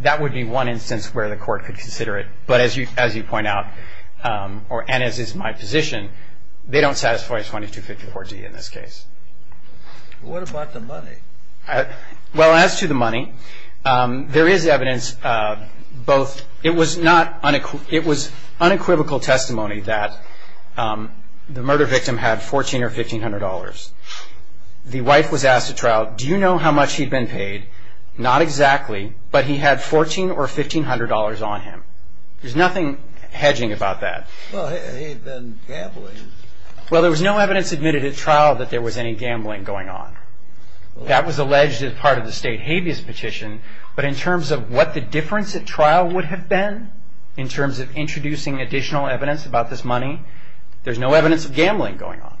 that would be one instance where the court could consider it. But as you point out, and as is my position, they don't satisfy a 2254-D in this case. What about the money? Well, as to the money, there is evidence. It was unequivocal testimony that the murder victim had $1,400 or $1,500. The wife was asked at trial, do you know how much he'd been paid? Not exactly, but he had $1,400 or $1,500 on him. There's nothing hedging about that. Well, he had been gambling. Well, there was no evidence admitted at trial that there was any gambling going on. That was alleged as part of the state habeas petition, but in terms of what the difference at trial would have been, in terms of introducing additional evidence about this money, there's no evidence of gambling going on.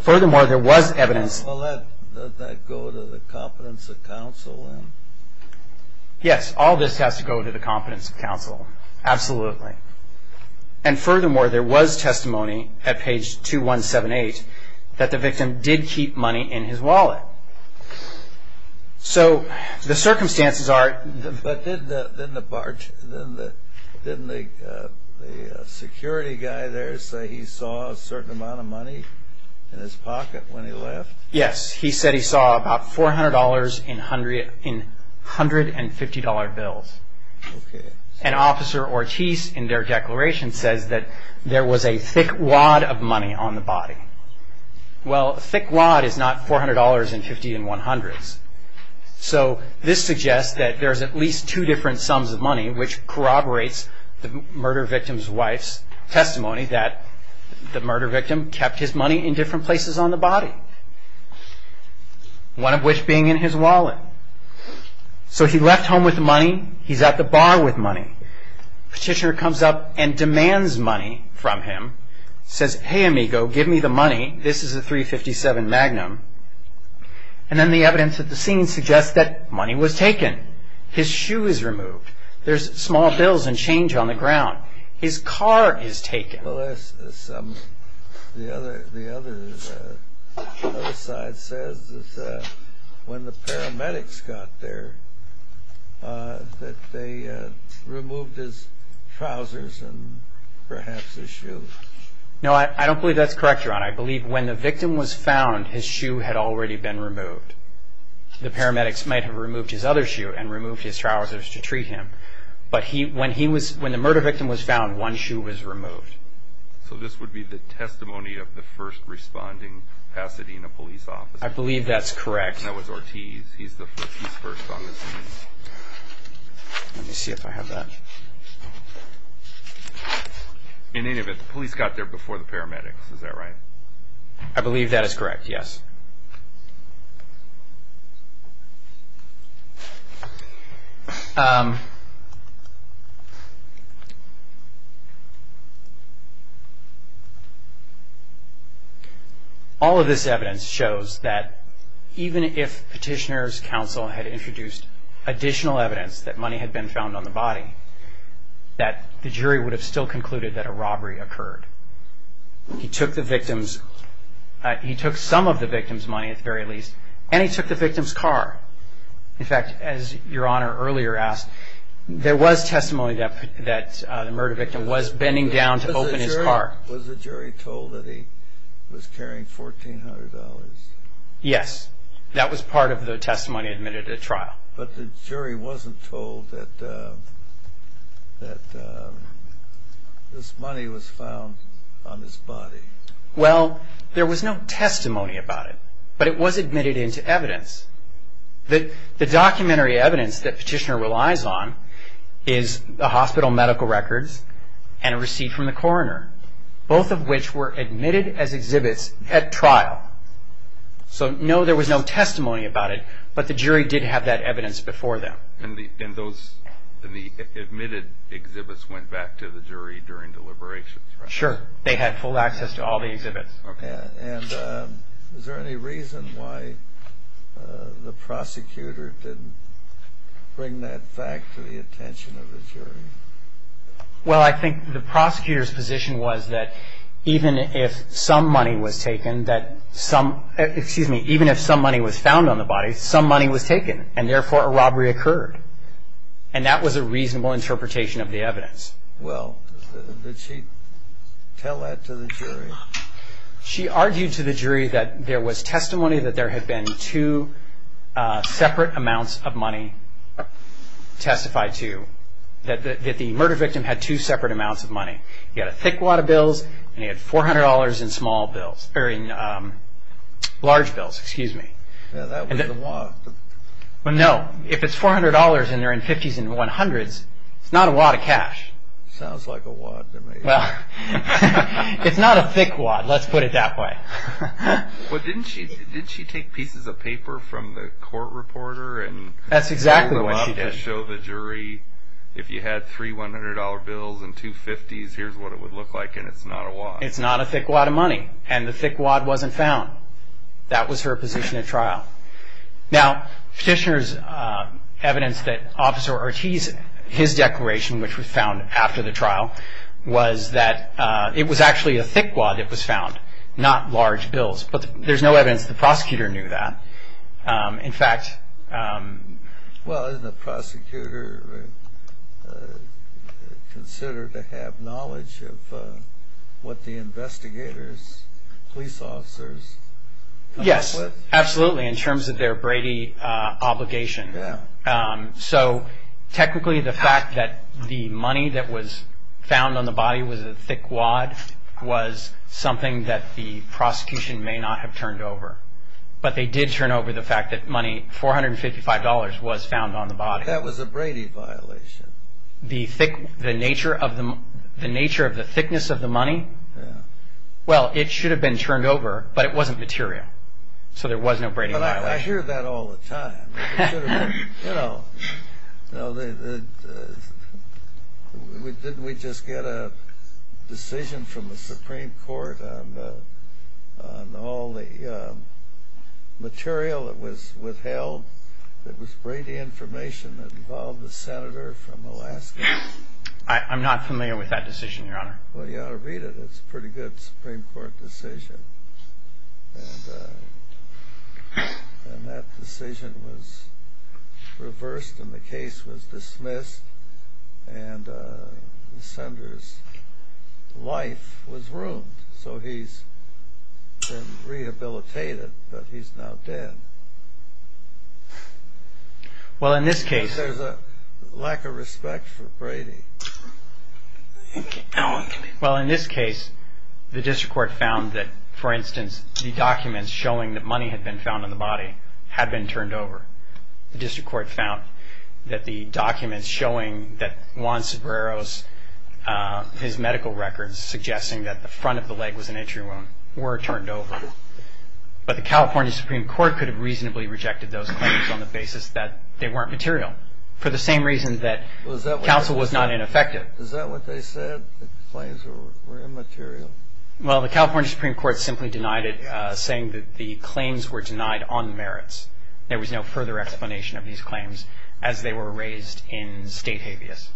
Furthermore, there was evidence. Well, does that go to the competence of counsel then? Yes, all this has to go to the competence of counsel. Absolutely. And furthermore, there was testimony at page 2178 that the victim did keep money in his wallet. So, the circumstances are... But didn't the security guy there say he saw a certain amount of money in his pocket when he left? Yes, he said he saw about $400 in $150 bills. And Officer Ortiz, in their declaration, said that there was a thick wad of money on the body. Well, a thick wad is not $400 and $50 and $100. So, this suggests that there's at least two different sums of money, which corroborates the murder victim's wife's testimony that the murder victim kept his money in different places on the body, one of which being in his wallet. So, he left home with money. He's at the bar with money. Petitioner comes up and demands money from him. Says, hey, amigo, give me the money. This is a .357 Magnum. And then the evidence at the scene suggests that money was taken. His shoe is removed. There's small bills and change on the ground. His car is taken. Well, the other side says that when the paramedics got there, that they removed his trousers and perhaps his shoes. No, I don't believe that's correct, Your Honor. I believe when the victim was found, his shoe had already been removed. The paramedics might have removed his other shoe and removed his trousers to treat him. But when the murder victim was found, one shoe was removed. So, this would be the testimony of the first responding Pasadena police officer. I believe that's correct. That was Ortiz. He's the first officer. Let me see if I have that. In any event, the police got there before the paramedics. Is that right? I believe that is correct, yes. All of this evidence shows that even if Petitioner's counsel had introduced additional evidence that money had been found on the body, that the jury would have still concluded that a robbery occurred. He took the victim's – he took some of the victim's money, at the very least, and he took the victim's car. In fact, as Your Honor earlier asked, there was testimony that the murder victim was bending down to open his car. Was the jury told that he was carrying $1,400? Yes. That was part of the testimony admitted at the trial. But the jury wasn't told that this money was found on his body. Well, there was no testimony about it, but it was admitted into evidence. The documentary evidence that Petitioner relies on is a hospital medical record and a receipt from the coroner, both of which were admitted as exhibits at trial. So, no, there was no testimony about it, but the jury did have that evidence before them. And the admitted exhibits went back to the jury during deliberations? Sure. They had full access to all the exhibits. Okay. And is there any reason why the prosecutor didn't bring that back to the attention of the jury? Well, I think the prosecutor's position was that even if some money was taken that some – excuse me, even if some money was found on the body, some money was taken, and therefore a robbery occurred. And that was a reasonable interpretation of the evidence. Well, did she tell that to the jury? She argued to the jury that there was testimony that there had been two separate amounts of money testified to, that the murder victim had two separate amounts of money. He had a thick wad of bills and he had $400 in small bills – or in large bills, excuse me. That was a wad. Well, no. If it's $400 and they're in 50s and 100s, it's not a wad of cash. Sounds like a wad to me. It's not a thick wad. Let's put it that way. But didn't she take pieces of paper from the court reporter and – That's exactly what she did. Show the jury if you had three $100 bills and two 50s, here's what it would look like, and it's not a wad. It's not a thick wad of money. And the thick wad wasn't found. That was her position at trial. Now, Petitioner's evidence that Officer Ortiz, his declaration, which was found after the trial, was that it was actually a thick wad that was found, not large bills. But there's no evidence the prosecutor knew that. In fact – Well, didn't the prosecutor consider to have knowledge of what the investigators, police officers, Yes, absolutely, in terms of their Brady obligation. So technically the fact that the money that was found on the body was a thick wad was something that the prosecution may not have turned over. But they did turn over the fact that money, $455, was found on the body. That was a Brady violation. The nature of the thickness of the money? Well, it should have been turned over, but it wasn't material. So there was no Brady violation. But I hear that all the time. You know, did we just get a decision from the Supreme Court on all the material that was withheld that was Brady information that involved the senator from Alaska? I'm not familiar with that decision, Your Honor. Well, Your Honor, read it. It's a pretty good Supreme Court decision. And that decision was reversed, and the case was dismissed, and the senator's life was ruined. So he's been rehabilitated, but he's now dead. Well, in this case – There's a lack of respect for Brady. Well, in this case, the district court found that, for instance, the documents showing that money had been found on the body had been turned over. The district court found that the documents showing that Juan Sobrero's medical records suggesting that the front of the leg was an injury wound were turned over. But the California Supreme Court could have reasonably rejected those claims on the basis that they weren't material, for the same reason that counsel was not ineffective. Is that what they said, that the claims were immaterial? Well, the California Supreme Court simply denied it, saying that the claims were denied on merits. There was no further explanation of these claims as they were raised in state habeas.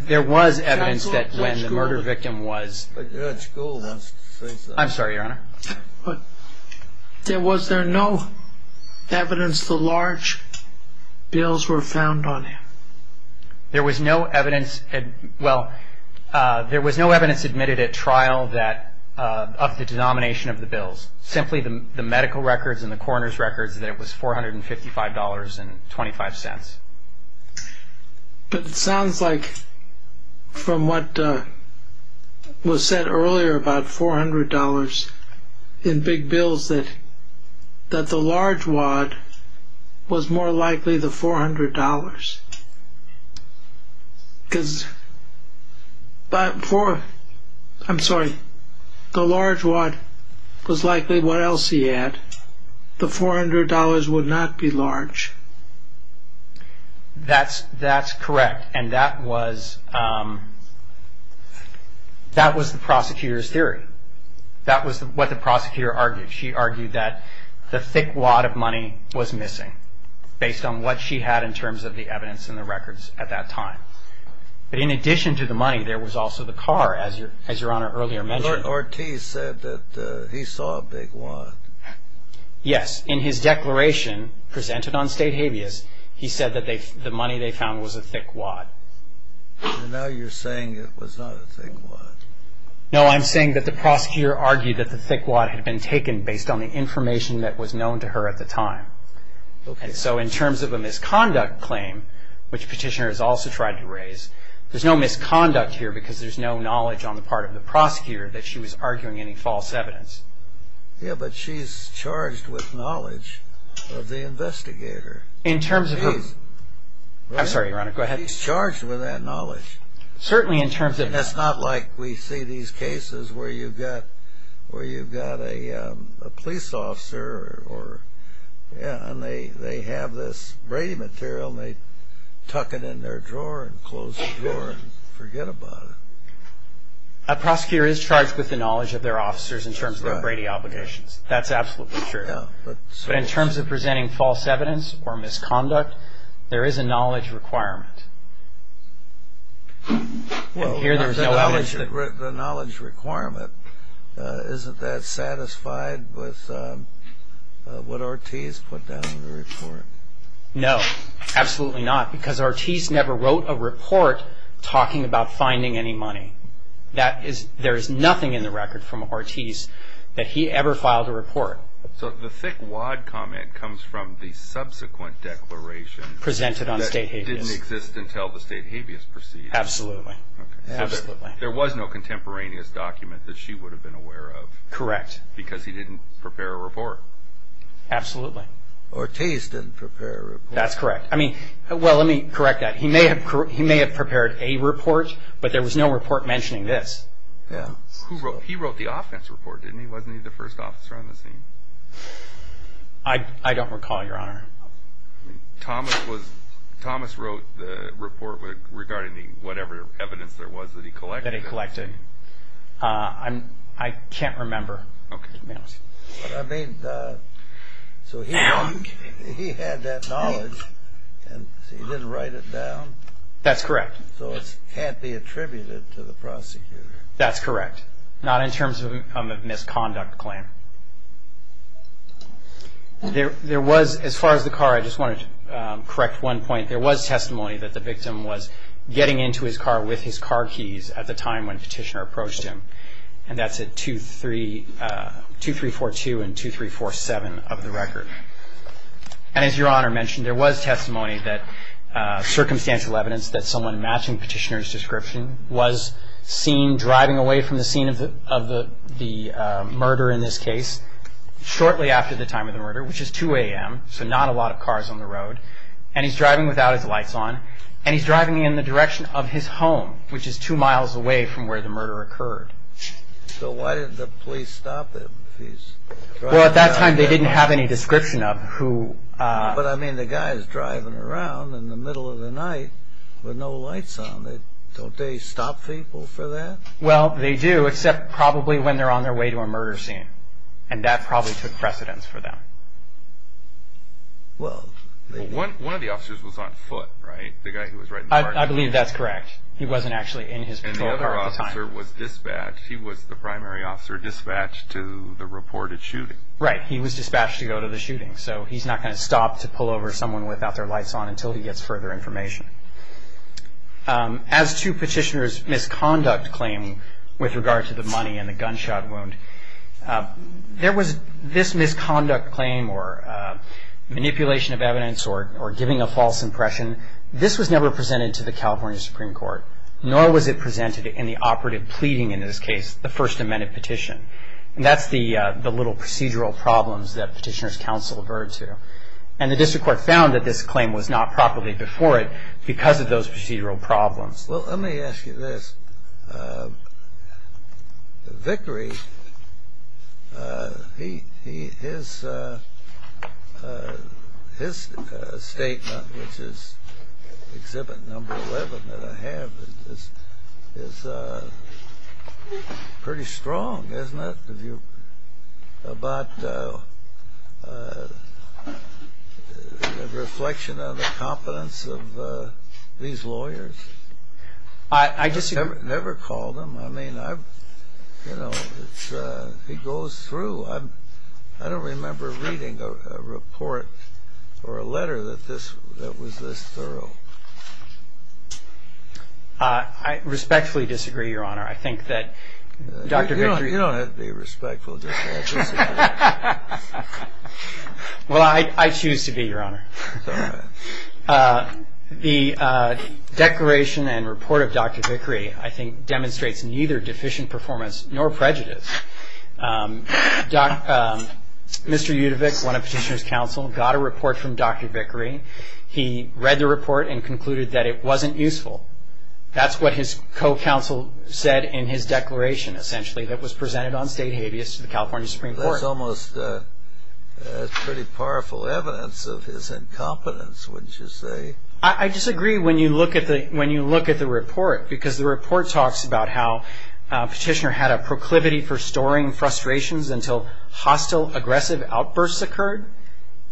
There was evidence that when the murder victim was – But Judge Gould was – I'm sorry, Your Honor. But was there no evidence the large bills were found on him? There was no evidence – Well, there was no evidence admitted at trial that – of the denomination of the bills. Simply the medical records and the coroner's records that it was $455.25. But it sounds like from what was said earlier about $400 in big bills, that the large wad was more likely the $400. Because – I'm sorry, the large wad was likely what else he had. The $400 would not be large. That's correct. And that was the prosecutor's theory. That was what the prosecutor argued. She argued that the thick wad of money was missing, based on what she had in terms of the evidence and the records at that time. But in addition to the money, there was also the car, as Your Honor earlier mentioned. Lord Ortiz said that he saw a big wad. Yes. And in his declaration presented on state habeas, he said that the money they found was a thick wad. And now you're saying it was not a thick wad. No, I'm saying that the prosecutor argued that the thick wad had been taken based on the information that was known to her at the time. So in terms of a misconduct claim, which Petitioner has also tried to raise, there's no misconduct here because there's no knowledge on the part of the prosecutor that she was arguing any false evidence. Yeah, but she's charged with knowledge of the investigator. In terms of who? I'm sorry, Your Honor, go ahead. She's charged with that knowledge. Certainly in terms of that. That's not like we see these cases where you've got a police officer and they have this Brady material and they tuck it in their drawer and close the door and forget about it. A prosecutor is charged with the knowledge of their officers in terms of their Brady obligations. That's absolutely true. In terms of presenting false evidence or misconduct, there is a knowledge requirement. The knowledge requirement, isn't that satisfied with what Ortiz put down in the report? No, absolutely not, because Ortiz never wrote a report talking about finding any money. There is nothing in the record from Ortiz that he ever filed a report. So the thick wad comment comes from the subsequent declaration that didn't exist until the State Habeas Procedure. Absolutely. There was no contemporaneous document that she would have been aware of. Correct. Because he didn't prepare a report. Absolutely. Ortiz didn't prepare a report. That's correct. Well, let me correct that. He may have prepared a report, but there was no report mentioning this. He wrote the offense report, didn't he? Wasn't he the first officer on the scene? I don't recall, Your Honor. Thomas wrote the report regarding whatever evidence there was that he collected. That he collected. I can't remember. So he had that knowledge, and he didn't write it down. That's correct. So it can't be attributed to the prosecutor. That's correct. Not in terms of a misconduct claim. There was, as far as the car, I just want to correct one point. There was testimony that the victim was getting into his car with his car keys at the time when Petitioner approached him. And that's at 2342 and 2347 of the record. And as Your Honor mentioned, there was testimony that circumstantial evidence that someone matching Petitioner's description was seen driving away from the scene of the murder in this case, shortly after the time of the murder, which is 2 a.m., so not a lot of cars on the road. And he's driving without his lights on, and he's driving in the direction of his home, which is 2 miles away from where the murder occurred. So why did the police stop him? Well, at that time, they didn't have any description of who. But, I mean, the guy is driving around in the middle of the night with no lights on. Don't they stop people for that? Well, they do, except probably when they're on their way to a murder scene. And that probably took precedence for them. One of the officers was on foot, right? I believe that's correct. He wasn't actually in his patrol car at the time. And the other officer was dispatched. He was the primary officer dispatched to the reported shooting. Right. He was dispatched to go to the shooting. So he's not going to stop to pull over someone without their lights on until he gets further information. As to Petitioner's misconduct claim with regard to the money and the gunshot wound, there was this misconduct claim or manipulation of evidence or giving a false impression, this was never presented to the California Supreme Court, nor was it presented in the operative pleading in this case, the First Amendment petition. And that's the little procedural problems that Petitioner's counsel referred to. And the district court found that this claim was not properly before it because of those procedural problems. Well, let me ask you this. Victory, his statement, which is exhibit number 11 that I have, is pretty strong, isn't it? About the reflection of the competence of these lawyers? I disagree. Never called him. I mean, he goes through. I don't remember reading a report or a letter that was this thorough. I respectfully disagree, Your Honor. You don't have to be respectful. Well, I choose to be, Your Honor. The declaration and report of Dr. Vickery, I think, demonstrates neither deficient performance nor prejudice. Mr. Yudovic, one of Petitioner's counsel, got a report from Dr. Vickery. He read the report and concluded that it wasn't useful. That's what his co-counsel said in his declaration, essentially, that was presented on state habeas to the California Supreme Court. That's pretty powerful evidence of his incompetence, wouldn't you say? I disagree when you look at the report because the report talks about how Petitioner had a proclivity for storing frustrations until hostile, aggressive outbursts occurred.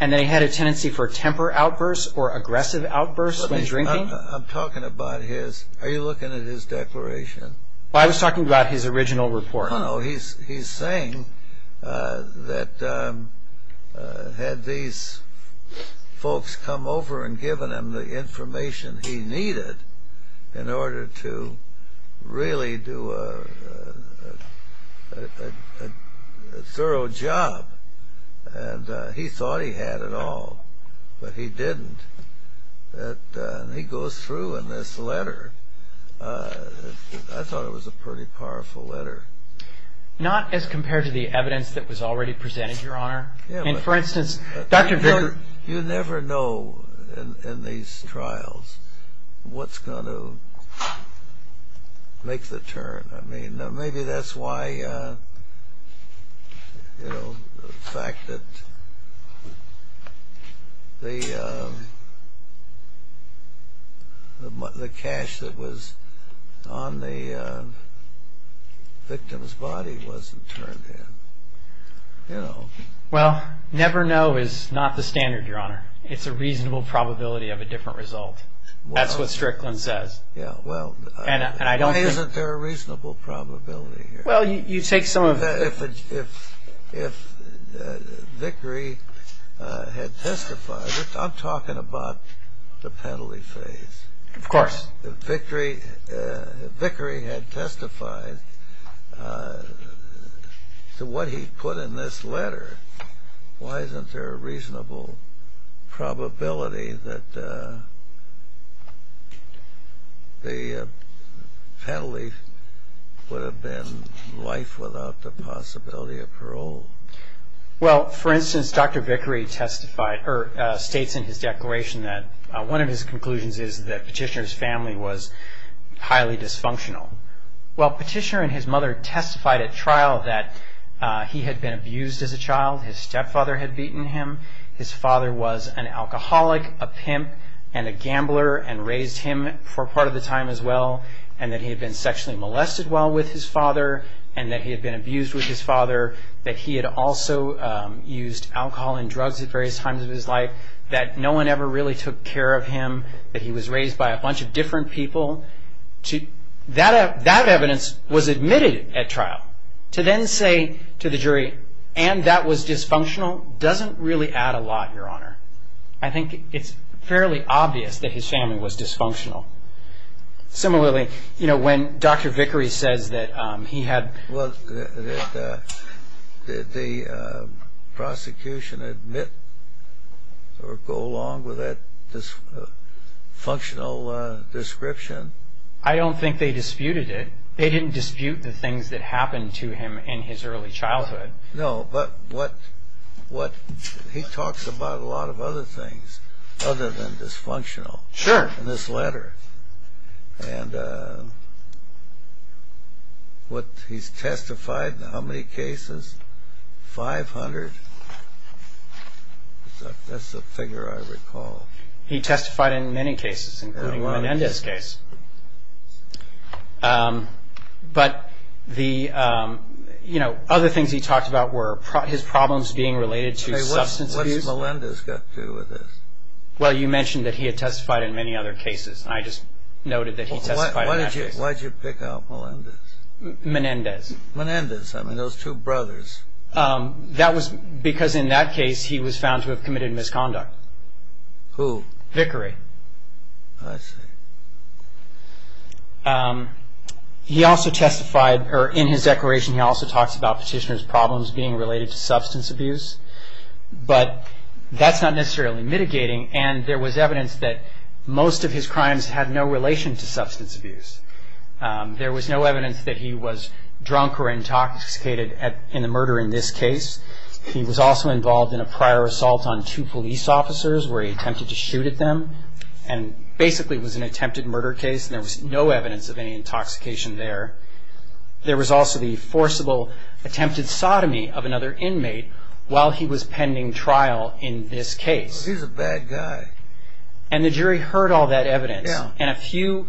And they had a tendency for temper outbursts or aggressive outbursts when drinking. I'm talking about his – are you looking at his declaration? I was talking about his original report. Oh, he's saying that had these folks come over and given him the information he needed in order to really do a thorough job, and he thought he had it all, but he didn't. And he goes through in this letter. I thought it was a pretty powerful letter. Not as compared to the evidence that was already presented, Your Honor. For instance, Dr. Vickery – You never know in these trials what's going to make the turn. I mean, maybe that's why the fact that the cash that was on the victim's body wasn't turned in. Well, never know is not the standard, Your Honor. It's a reasonable probability of a different result. That's what Strickland says. Yeah, well, isn't there a reasonable probability here? Well, you take some of – If Vickery had testified – I'm talking about the penalty phase. Of course. If Vickery had testified to what he put in this letter, why isn't there a reasonable probability that the penalty would have been life without the possibility of parole? Well, for instance, Dr. Vickery testified – Well, Petitioner and his mother testified at trial that he had been abused as a child. His stepfather had beaten him. His father was an alcoholic, a pimp, and a gambler and raised him for part of the time as well, and that he had been sexually molested while with his father and that he had been abused with his father, that he had also used alcohol and drugs at various times of his life, that no one ever really took care of him, that he was raised by a bunch of different people. That evidence was admitted at trial. To then say to the jury, and that was dysfunctional, doesn't really add a lot, Your Honor. I think it's fairly obvious that his family was dysfunctional. Similarly, you know, when Dr. Vickery said that he had – Did the prosecution admit or go along with that dysfunctional description? I don't think they disputed it. They didn't dispute the things that happened to him in his early childhood. No, but what – he talks about a lot of other things other than dysfunctional in this letter. Sure. And what – he's testified in how many cases? Five hundred? That's a figure I recall. He testified in many cases, including Melendez's case. But the – you know, other things he talks about were his problems being related to substances. What did Melendez get to with this? Well, you mentioned that he had testified in many other cases. I just noted that he testified in that case. Why did you pick out Melendez? Menendez. Menendez. I mean, those two brothers. That was because in that case, he was found to have committed misconduct. Who? Vickery. I see. He also testified – or in his declaration, he also talks about petitioner's problems being related to substance abuse. But that's not necessarily mitigating. And there was evidence that most of his crimes had no relation to substance abuse. There was no evidence that he was drunk or intoxicated in a murder in this case. He was also involved in a prior assault on two police officers where he attempted to shoot at them. And basically, it was an attempted murder case. There was no evidence of any intoxication there. There was also the forcible attempted sodomy of another inmate while he was pending trial in this case. He's a bad guy. And the jury heard all that evidence. Yeah. And a few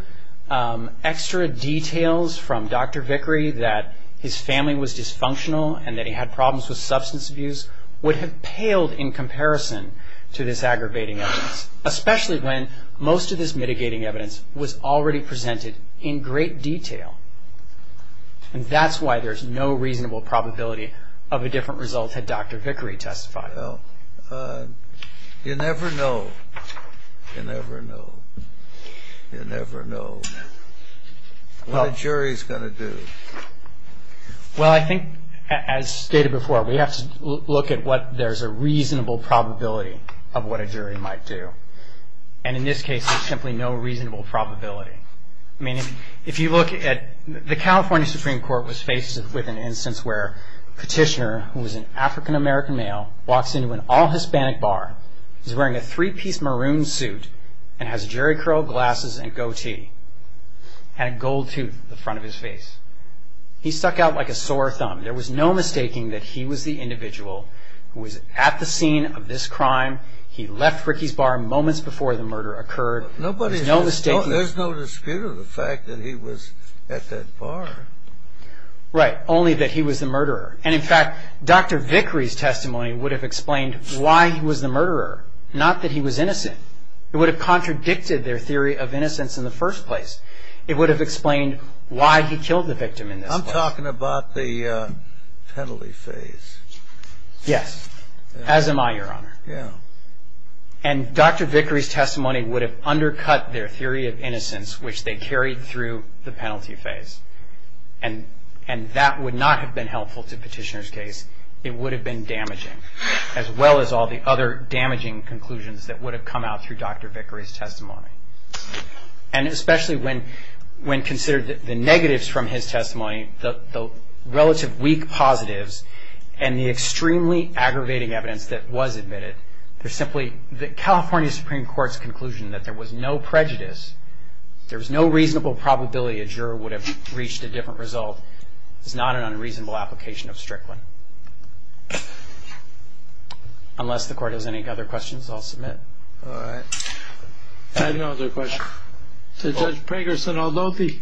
extra details from Dr. Vickery that his family was dysfunctional and that he had problems with substance abuse would have paled in comparison to this aggravating evidence, especially when most of his mitigating evidence was already presented in great detail. And that's why there's no reasonable probability of a different result had Dr. Vickery testified. You never know. You never know. You never know what a jury's going to do. Well, I think, as stated before, we have to look at what there's a reasonable probability of what a jury might do. And in this case, there's simply no reasonable probability. I mean, if you look at the California Supreme Court was faced with an instance where a petitioner who was an African-American male walks into an all-Hispanic bar, is wearing a three-piece maroon suit, and has Jerry Crow glasses and goatee, and a gold tooth at the front of his face. He stuck out like a sore thumb. There was no mistaking that he was the individual who was at the scene of this crime. He left Ricky's bar moments before the murder occurred. There's no dispute of the fact that he was at that bar. Right. Only that he was the murderer. And, in fact, Dr. Vickery's testimony would have explained why he was the murderer, not that he was innocent. It would have contradicted their theory of innocence in the first place. It would have explained why he killed the victim. I'm talking about the penalty phase. Yes. As am I, Your Honor. Yeah. And Dr. Vickery's testimony would have undercut their theory of innocence, which they carried through the penalty phase. And that would not have been helpful to the petitioner's case. It would have been damaging, as well as all the other damaging conclusions that would have come out through Dr. Vickery's testimony. And especially when considered the negatives from his testimony, the relative weak positives, and the extremely aggravating evidence that was admitted. There's simply the California Supreme Court's conclusion that there was no prejudice, there's no reasonable probability a juror would have reached a different result. It's not an unreasonable application of strict one. Unless the Court has any other questions, I'll submit. All right. I have no other questions. Judge Pragerson, although the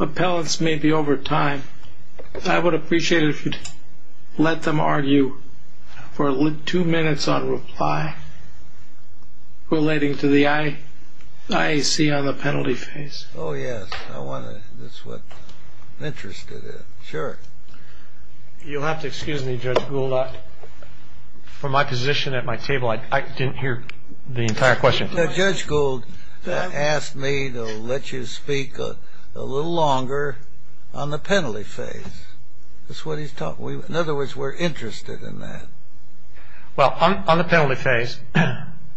appellants may be over time, I would appreciate it if you'd let them argue for two minutes on reply relating to the IAC on the penalty phase. Oh, yes. That's what I'm interested in. Sure. You'll have to excuse me, Judge Gould. From my position at my table, I didn't hear the entire question. Judge Gould asked me to let you speak a little longer on the penalty phase. That's what he's talking about. In other words, we're interested in that. Well, on the penalty phase, and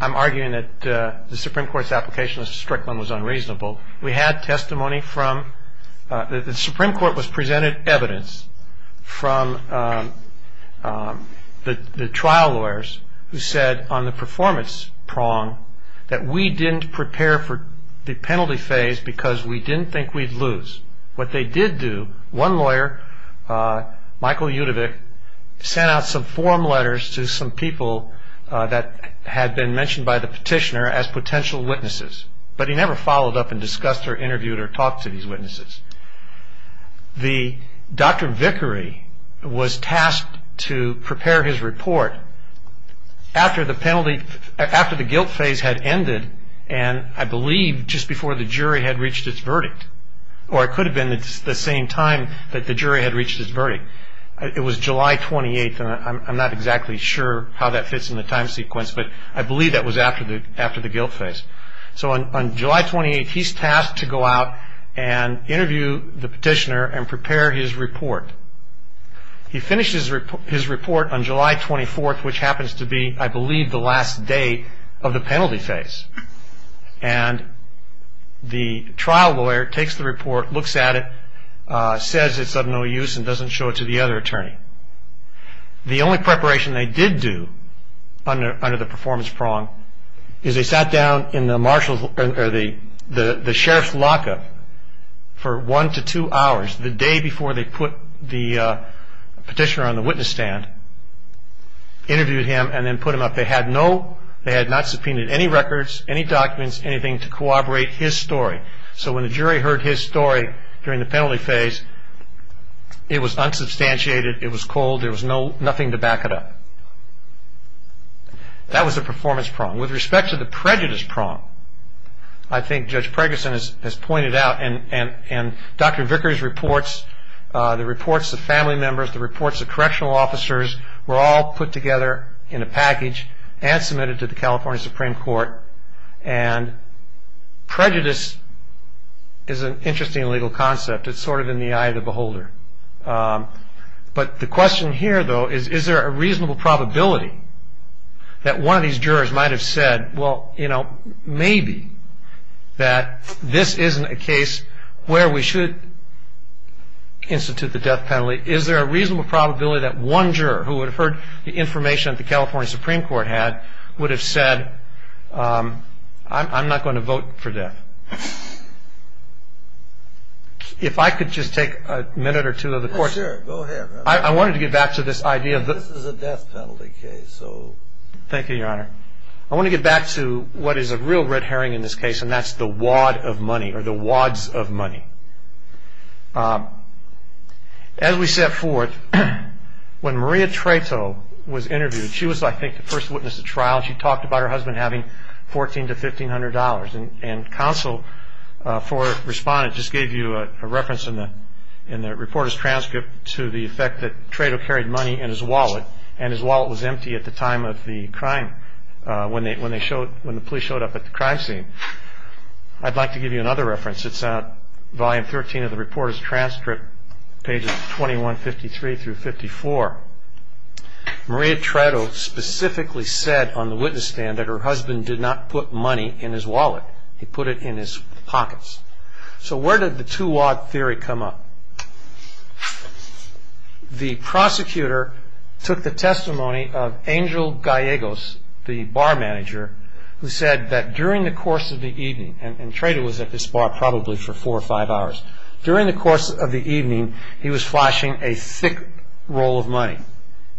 I'm arguing that the Supreme Court's application of strict one was unreasonable. We had testimony from the Supreme Court was presented evidence from the trial lawyers who said on the performance prong that we didn't prepare for the penalty phase because we didn't think we'd lose. What they did do, one lawyer, Michael Yudevich, sent out some form letters to some people that had been mentioned by the petitioner as potential witnesses. But he never followed up and discussed or interviewed or talked to these witnesses. Dr. Vickery was tasked to prepare his report after the guilt phase had ended and, I believe, just before the jury had reached its verdict, or it could have been the same time that the jury had reached its verdict. It was July 28th, and I'm not exactly sure how that fits in the time sequence, but I believe that was after the guilt phase. So on July 28th, he's tasked to go out and interview the petitioner and prepare his report. He finishes his report on July 24th, which happens to be, I believe, the last day of the penalty phase. And the trial lawyer takes the report, looks at it, says it's of no use and doesn't show it to the other attorney. The only preparation they did do under the performance prong is they sat down in the sheriff's lockup for one to two hours, the day before they put the petitioner on the witness stand, interviewed him and then put him up. They had not subpoenaed any records, any documents, anything to corroborate his story. So when the jury heard his story during the penalty phase, it was unsubstantiated. It was cold. There was nothing to back it up. That was the performance prong. With respect to the prejudice prong, I think Judge Preggerson has pointed out, and Dr. Vickery's reports, the reports of family members, the reports of correctional officers were all put together in a package and submitted to the California Supreme Court. And prejudice is an interesting legal concept. It's sort of in the eye of the beholder. But the question here, though, is, is there a reasonable probability that one of these jurors might have said, well, you know, maybe that this isn't a case where we should institute the death penalty? Is there a reasonable probability that one juror who would have heard the information that the California Supreme Court had would have said, I'm not going to vote for death? If I could just take a minute or two of the course. Go ahead. I wanted to get back to this idea. This is a death penalty case. Thank you, Your Honor. I want to get back to what is a real red herring in this case, and that's the wad of money or the wads of money. As we set forth, when Maria Trato was interviewed, she was, I think, the first witness at trial. She talked about her husband having $1,400 to $1,500. And counsel for respondents just gave you a reference in the reporter's transcript to the effect that Trato carried money in his wallet, and his wallet was empty at the time of the crime when the police showed up at the crime scene. I'd like to give you another reference. It's on volume 13 of the reporter's transcript, pages 2153 through 54. Maria Trato specifically said on the witness stand that her husband did not put money in his wallet. He put it in his pockets. So where did the two-wad theory come up? The prosecutor took the testimony of Angel Gallegos, the bar manager, who said that during the course of the evening, and Trato was at this bar probably for four or five hours, during the course of the evening he was flashing a thick roll of money.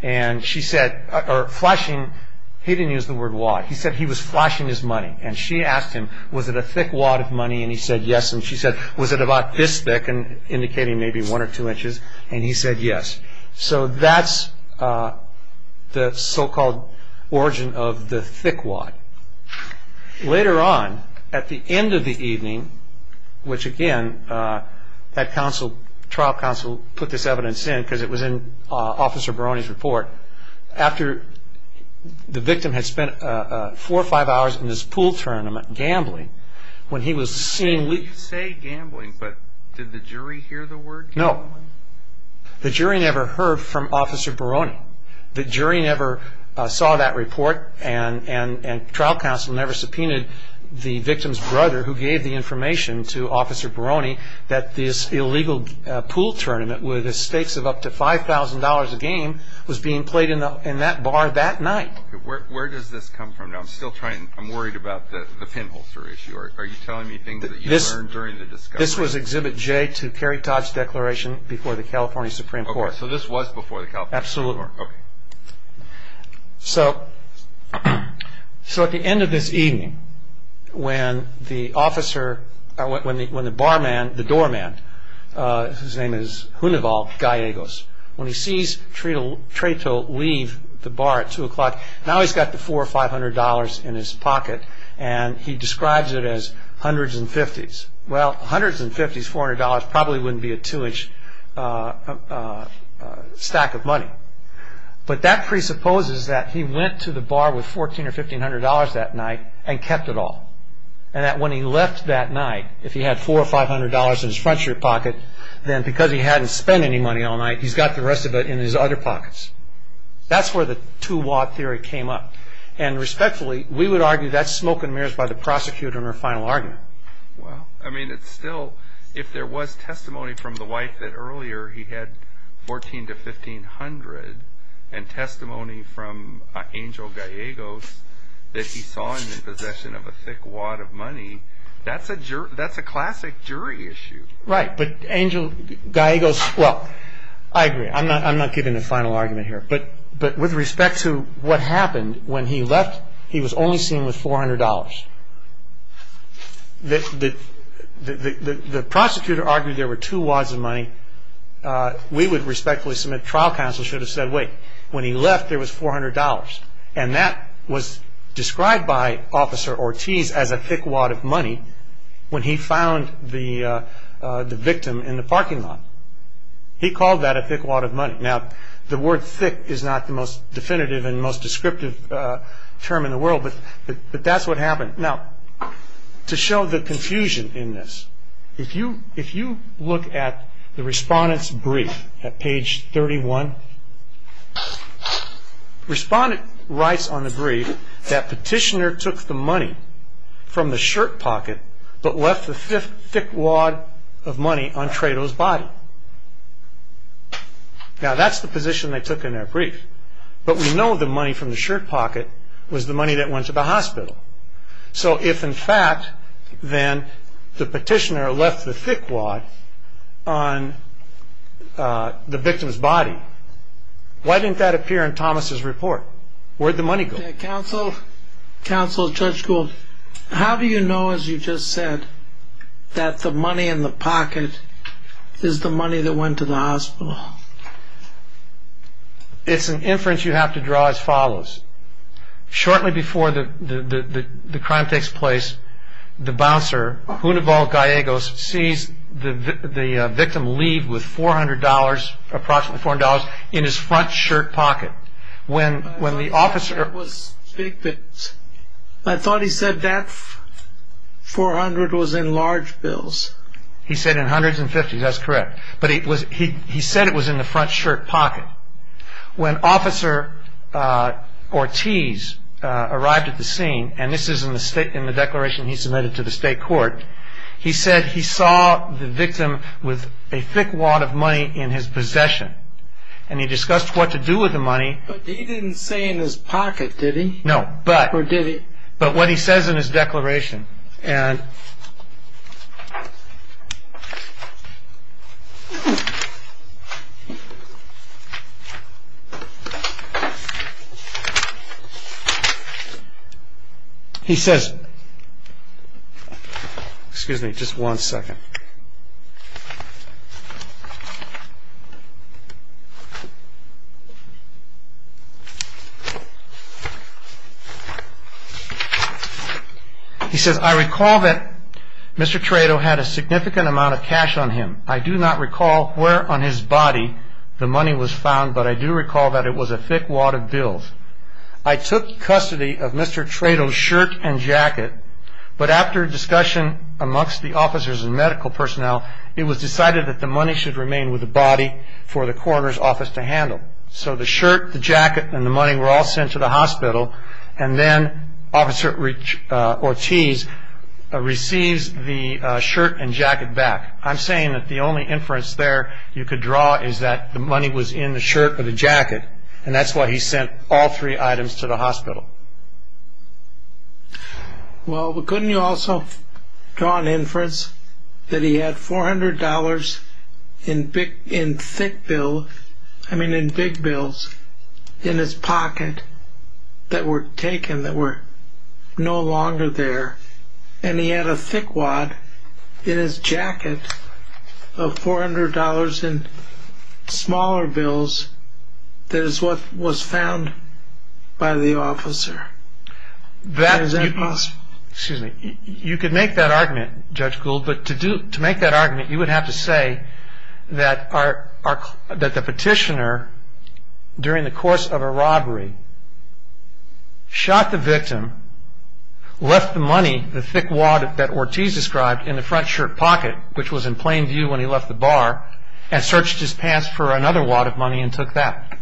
And she said, or flashing, he didn't use the word wad. He said he was flashing his money. And she asked him, was it a thick wad of money? And he said yes. And she said, was it about this thick, indicating maybe one or two inches? And he said yes. So that's the so-called origin of the thick wad. Later on, at the end of the evening, which again, that trial counsel put this evidence in because it was in Officer Barone's report, after the victim had spent four or five hours in this pool tournament gambling, when he was seeing You say gambling, but did the jury hear the word gambling? No. The jury never heard from Officer Barone. The jury never saw that report, and trial counsel never subpoenaed the victim's brother who gave the information to Officer Barone that this illegal pool tournament with a stakes of up to $5,000 a game was being played in that bar that night. Where does this come from? I'm worried about the pinholster issue. Are you telling me things that you learned during the discussion? This was Exhibit J to Terry Todd's declaration before the California Supreme Court. So this was before the California Supreme Court. Absolutely. So at the end of this evening, when the barman, the doorman, whose name is Hunoval Gallegos, when he sees Treto leave the bar at 2 o'clock, now he's got the $400 or $500 in his pocket, and he describes it as hundreds and fifties. Well, hundreds and fifties, $400, probably wouldn't be a two-inch stack of money. But that presupposes that he went to the bar with $1,400 or $1,500 that night and kept it all, and that when he left that night, if he had $400 or $500 in his front-chair pocket, then because he hadn't spent any money all night, he's got the rest of it in his other pockets. That's where the two-watt theory came up. And respectfully, we would argue that's smoke and mirrors by the prosecutor in her final argument. Well, I mean, it's still, if there was testimony from the wife that earlier he had $1,400 to $1,500 and testimony from Angel Gallegos that he saw him in possession of a thick wad of money, that's a classic jury issue. Right, but Angel Gallegos, well, I agree. I'm not giving the final argument here. But with respect to what happened, when he left, he was only seen with $400. The prosecutor argued there were two wads of money. We would respectfully submit trial counsel should have said, wait, when he left, there was $400. And that was described by Officer Ortiz as a thick wad of money when he found the victim in the parking lot. Now, the word thick is not the most definitive and most descriptive term in the world, but that's what happened. Now, to show the confusion in this, if you look at the respondent's brief at page 31, respondent writes on the brief that petitioner took the money from the shirt pocket but left the thick wad of money on Trayto's body. Now, that's the position they took in their brief. But we know the money from the shirt pocket was the money that went to the hospital. So if, in fact, then the petitioner left the thick wad on the victim's body, why didn't that appear in Thomas' report? Where did the money go? Counsel, Judge Gould, how do you know, as you just said, that the money in the pocket is the money that went to the hospital? It's an inference you have to draw as follows. Shortly before the crime takes place, the bouncer, Junibal Gallegos, sees the victim leave with $400, approximately $400, in his front shirt pocket. I thought he said that $400 was in large bills. He said in hundreds and fifties, that's correct. But he said it was in the front shirt pocket. When Officer Ortiz arrived at the scene, and this is in the declaration he submitted to the state court, he said he saw the victim with a thick wad of money in his possession. And he discussed what to do with the money. But he didn't say in his pocket, did he? No. Or did he? But what he says in his declaration. And he says, excuse me just one second. He said, I recall that Mr. Traito had a significant amount of cash on him. I do not recall where on his body the money was found, but I do recall that it was a thick wad of bills. I took custody of Mr. Traito's shirt and jacket. But after a discussion amongst the officers and medical personnel, it was decided that the money should remain with the body for the coroner's office to handle. So the shirt, the jacket, and the money were all sent to the hospital. And then Officer Ortiz receives the shirt and jacket back. I'm saying that the only inference there you could draw is that the money was in the shirt or the jacket. And that's why he sent all three items to the hospital. Well, couldn't you also draw an inference that he had $400 in thick bills, I mean in big bills, in his pocket that were taken, that were no longer there. And he had a thick wad in his jacket of $400 in smaller bills that is what was found by the officer. Excuse me. You could make that argument, Judge Gould, but to make that argument you would have to say that the petitioner, during the course of a robbery, shot the victim, left the money, the thick wad that Ortiz described, in the front shirt pocket, which was in plain view when he left the bar, and searched his pants for another wad of money and took that.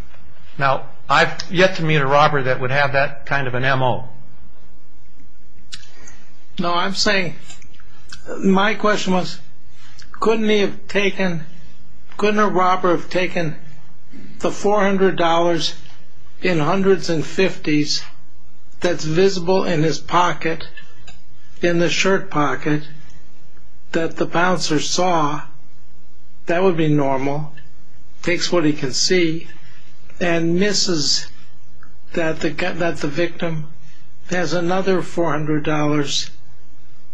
Now, I've yet to meet a robber that would have that kind of an MO. No, I'm saying, my question was, couldn't he have taken, couldn't a robber have taken the $400 in hundreds and fifties that's visible in his pocket, in the shirt pocket, that the bouncer saw, that would be normal, takes what he can see, and misses that the victim has another $400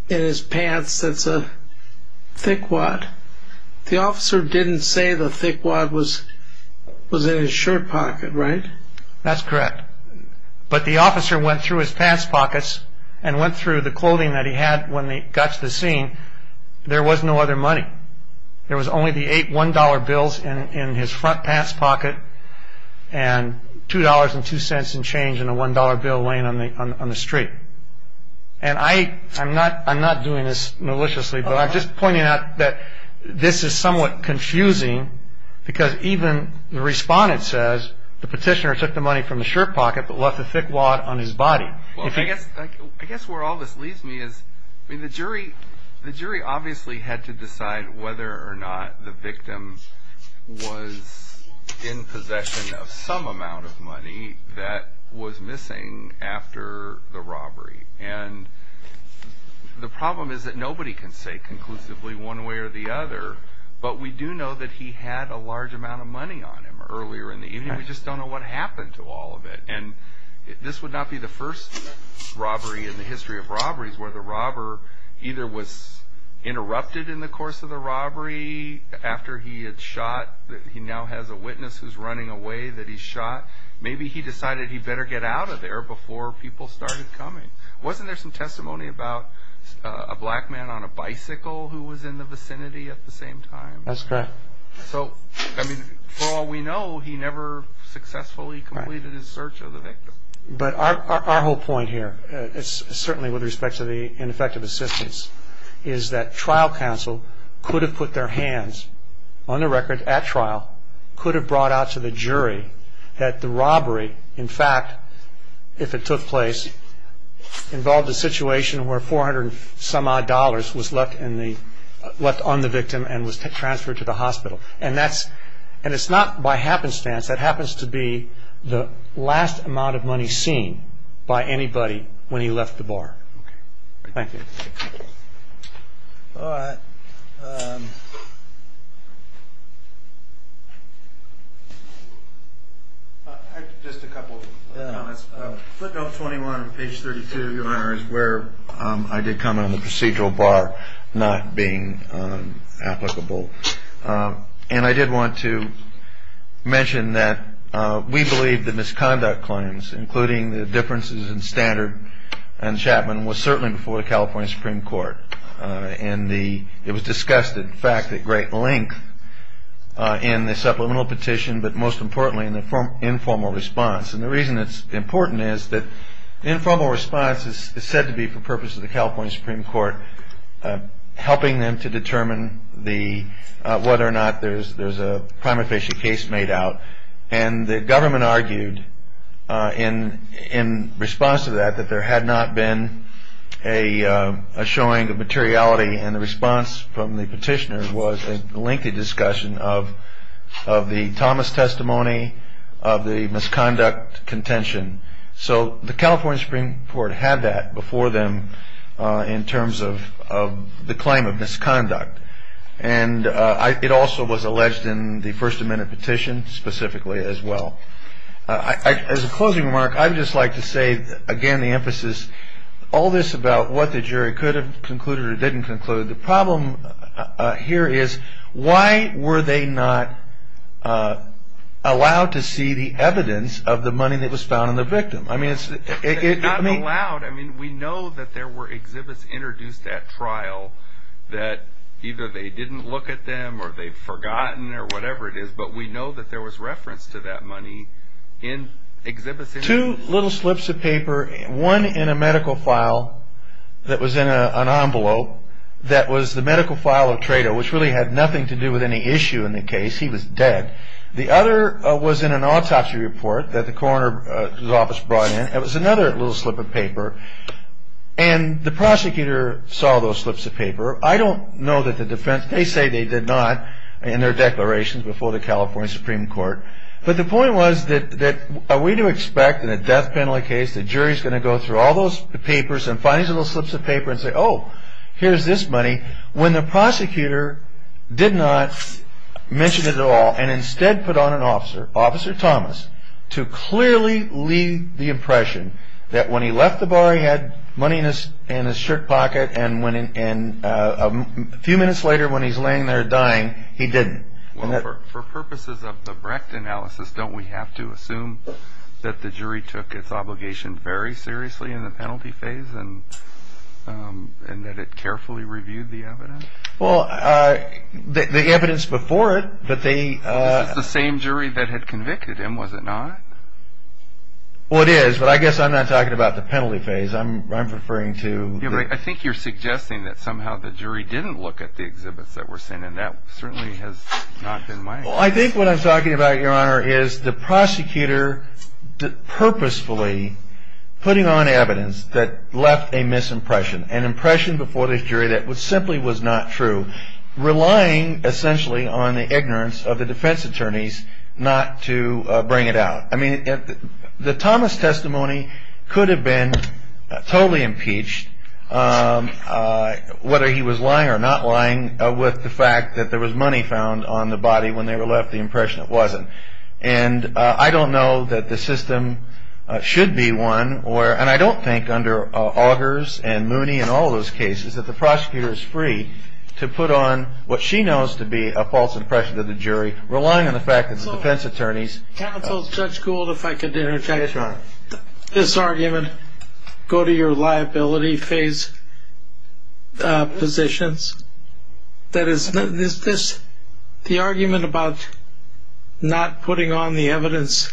in his pants that's a thick wad. The officer didn't say the thick wad was in his shirt pocket, right? That's correct. But the officer went through his pants pockets and went through the clothing that he had when he got to the scene. There was no other money. There was only the eight $1 bills in his front pants pocket, and $2.02 in change and a $1 bill laying on the street. And I'm not doing this maliciously, but I'm just pointing out that this is somewhat confusing, because even the respondent says the petitioner took the money from the shirt pocket, but left the thick wad on his body. I guess where all this leads me is the jury obviously had to decide whether or not the victim was in possession of some amount of money that was missing after the robbery. And the problem is that nobody can say conclusively one way or the other, but we do know that he had a large amount of money on him earlier in the evening. We just don't know what happened to all of it. And this would not be the first robbery in the history of robberies where the robber either was interrupted in the course of the robbery after he had shot. He now has a witness who's running away that he shot. Maybe he decided he better get out of there before people started coming. Wasn't there some testimony about a black man on a bicycle who was in the vicinity at the same time? That's correct. So, I mean, for all we know, he never successfully completed his search of the victim. But our whole point here, certainly with respect to the ineffective assistance, is that trial counsel could have put their hands on the record at trial, could have brought out to the jury that the robbery, in fact, if it took place, involved a situation where 400 and some odd dollars was left on the victim and was transferred to the hospital. And it's not by happenstance. That happens to be the last amount of money seen by anybody when he left the bar. Thank you. All right. Just a couple of comments. Flip note 21 on page 32, Your Honor, is where I did comment on the procedural bar not being applicable. And I did want to mention that we believe the misconduct claims, including the differences in standard and Chapman, was certainly before the California Supreme Court. And it was discussed, in fact, at great length in the supplemental petition, but most importantly in the informal response. And the reason it's important is that the informal response is said to be for purposes of the California Supreme Court, helping them to determine whether or not there's a crime-official case made out. And the government argued in response to that that there had not been a showing of materiality. And the response from the petitioners was a lengthy discussion of the Thomas testimony, of the misconduct contention. So the California Supreme Court had that before them in terms of the claim of misconduct. And it also was alleged in the first amendment petition specifically as well. As a closing remark, I would just like to say, again, the emphasis, all this about what the jury could have concluded or didn't conclude, the problem here is why were they not allowed to see the evidence of the money that was found in the victim? I mean, it's not allowed. I mean, we know that there were exhibits introduced at trial that either they didn't look at them or they'd forgotten or whatever it is, but we know that there was reference to that money in exhibits. Two little slips of paper, one in a medical file that was in an envelope that was the medical file of Tredo, which really had nothing to do with any issue in the case. He was dead. The other was in an autopsy report that the coroner's office brought in. It was another little slip of paper. And the prosecutor saw those slips of paper. I don't know that the defense, they say they did not in their declarations before the California Supreme Court. But the point was that are we to expect in a death penalty case the jury's going to go through all those papers and find these little slips of paper and say, oh, here's this money, when the prosecutor did not mention it at all and instead put on an officer, Officer Thomas, to clearly leave the impression that when he left the bar he had money in his shirt pocket and a few minutes later when he's laying there dying, he didn't. Well, for purposes of the Brecht analysis, don't we have to assume that the jury took its obligations very seriously in the penalty phase and that it carefully reviewed the evidence? Well, the evidence before it that they... It's the same jury that had convicted him, was it not? Well, it is. But I guess I'm not talking about the penalty phase. I'm referring to... Yeah, but I think you're suggesting that somehow the jury didn't look at the exhibits that were sent and that certainly has not been the case. Well, I think what I'm talking about, Your Honor, is the prosecutor purposefully putting on evidence that left a misimpression, an impression before the jury that simply was not true, relying essentially on the ignorance of the defense attorneys not to bring it out. I mean, the Thomas testimony could have been totally impeached, whether he was lying or not lying with the fact that there was money found on the body when they were left the impression it wasn't. And I don't know that the system should be one, and I don't think under Augers and Mooney and all those cases, that the prosecutor is free to put on what she knows to be a false impression of the jury, relying on the fact that the defense attorneys... ...didn't look at the penalty phase positions. Is this the argument about not putting on the evidence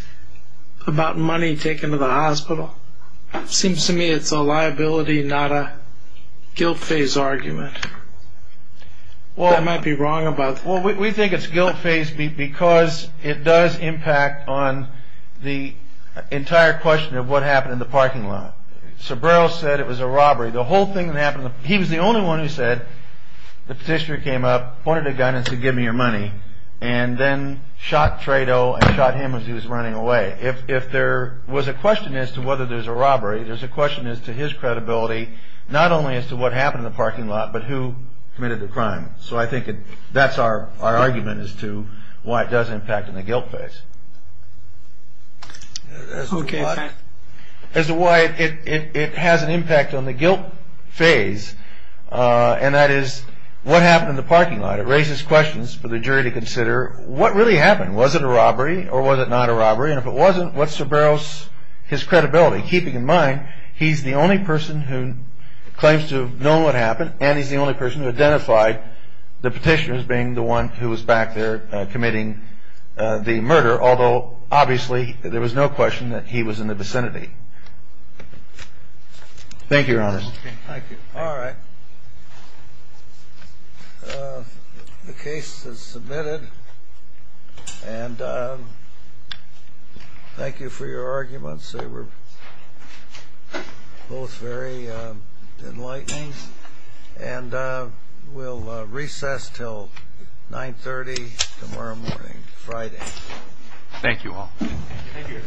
about money taken to the hospital? It seems to me it's a liability, not a guilt phase argument. I might be wrong about that. Well, we think it's guilt phase because it does impact on the entire question of what happened in the parking lot. So Burroughs said it was a robbery. The whole thing that happened, he was the only one who said the petitioner came up, pointed a gun and said, give me your money, and then shot Trayto and shot him as he was running away. If there was a question as to whether there's a robbery, there's a question as to his credibility, not only as to what happened in the parking lot, but who committed the crime. So I think that's our argument as to why it does impact on the guilt phase. Okay. As to why it has an impact on the guilt phase, and that is what happened in the parking lot. It raises questions for the jury to consider what really happened. Was it a robbery or was it not a robbery? And if it wasn't, what's Sir Burroughs' credibility, keeping in mind he's the only person who claims to know what happened and he's the only person who identified the petitioner as being the one who was back there committing the murder although obviously there was no question that he was in the vicinity. Thank you, Your Honors. Thank you. All right. The case is submitted. And thank you for your arguments. They were both very enlightening. And we'll recess until 930 tomorrow morning, Friday. Thank you all. Thank you.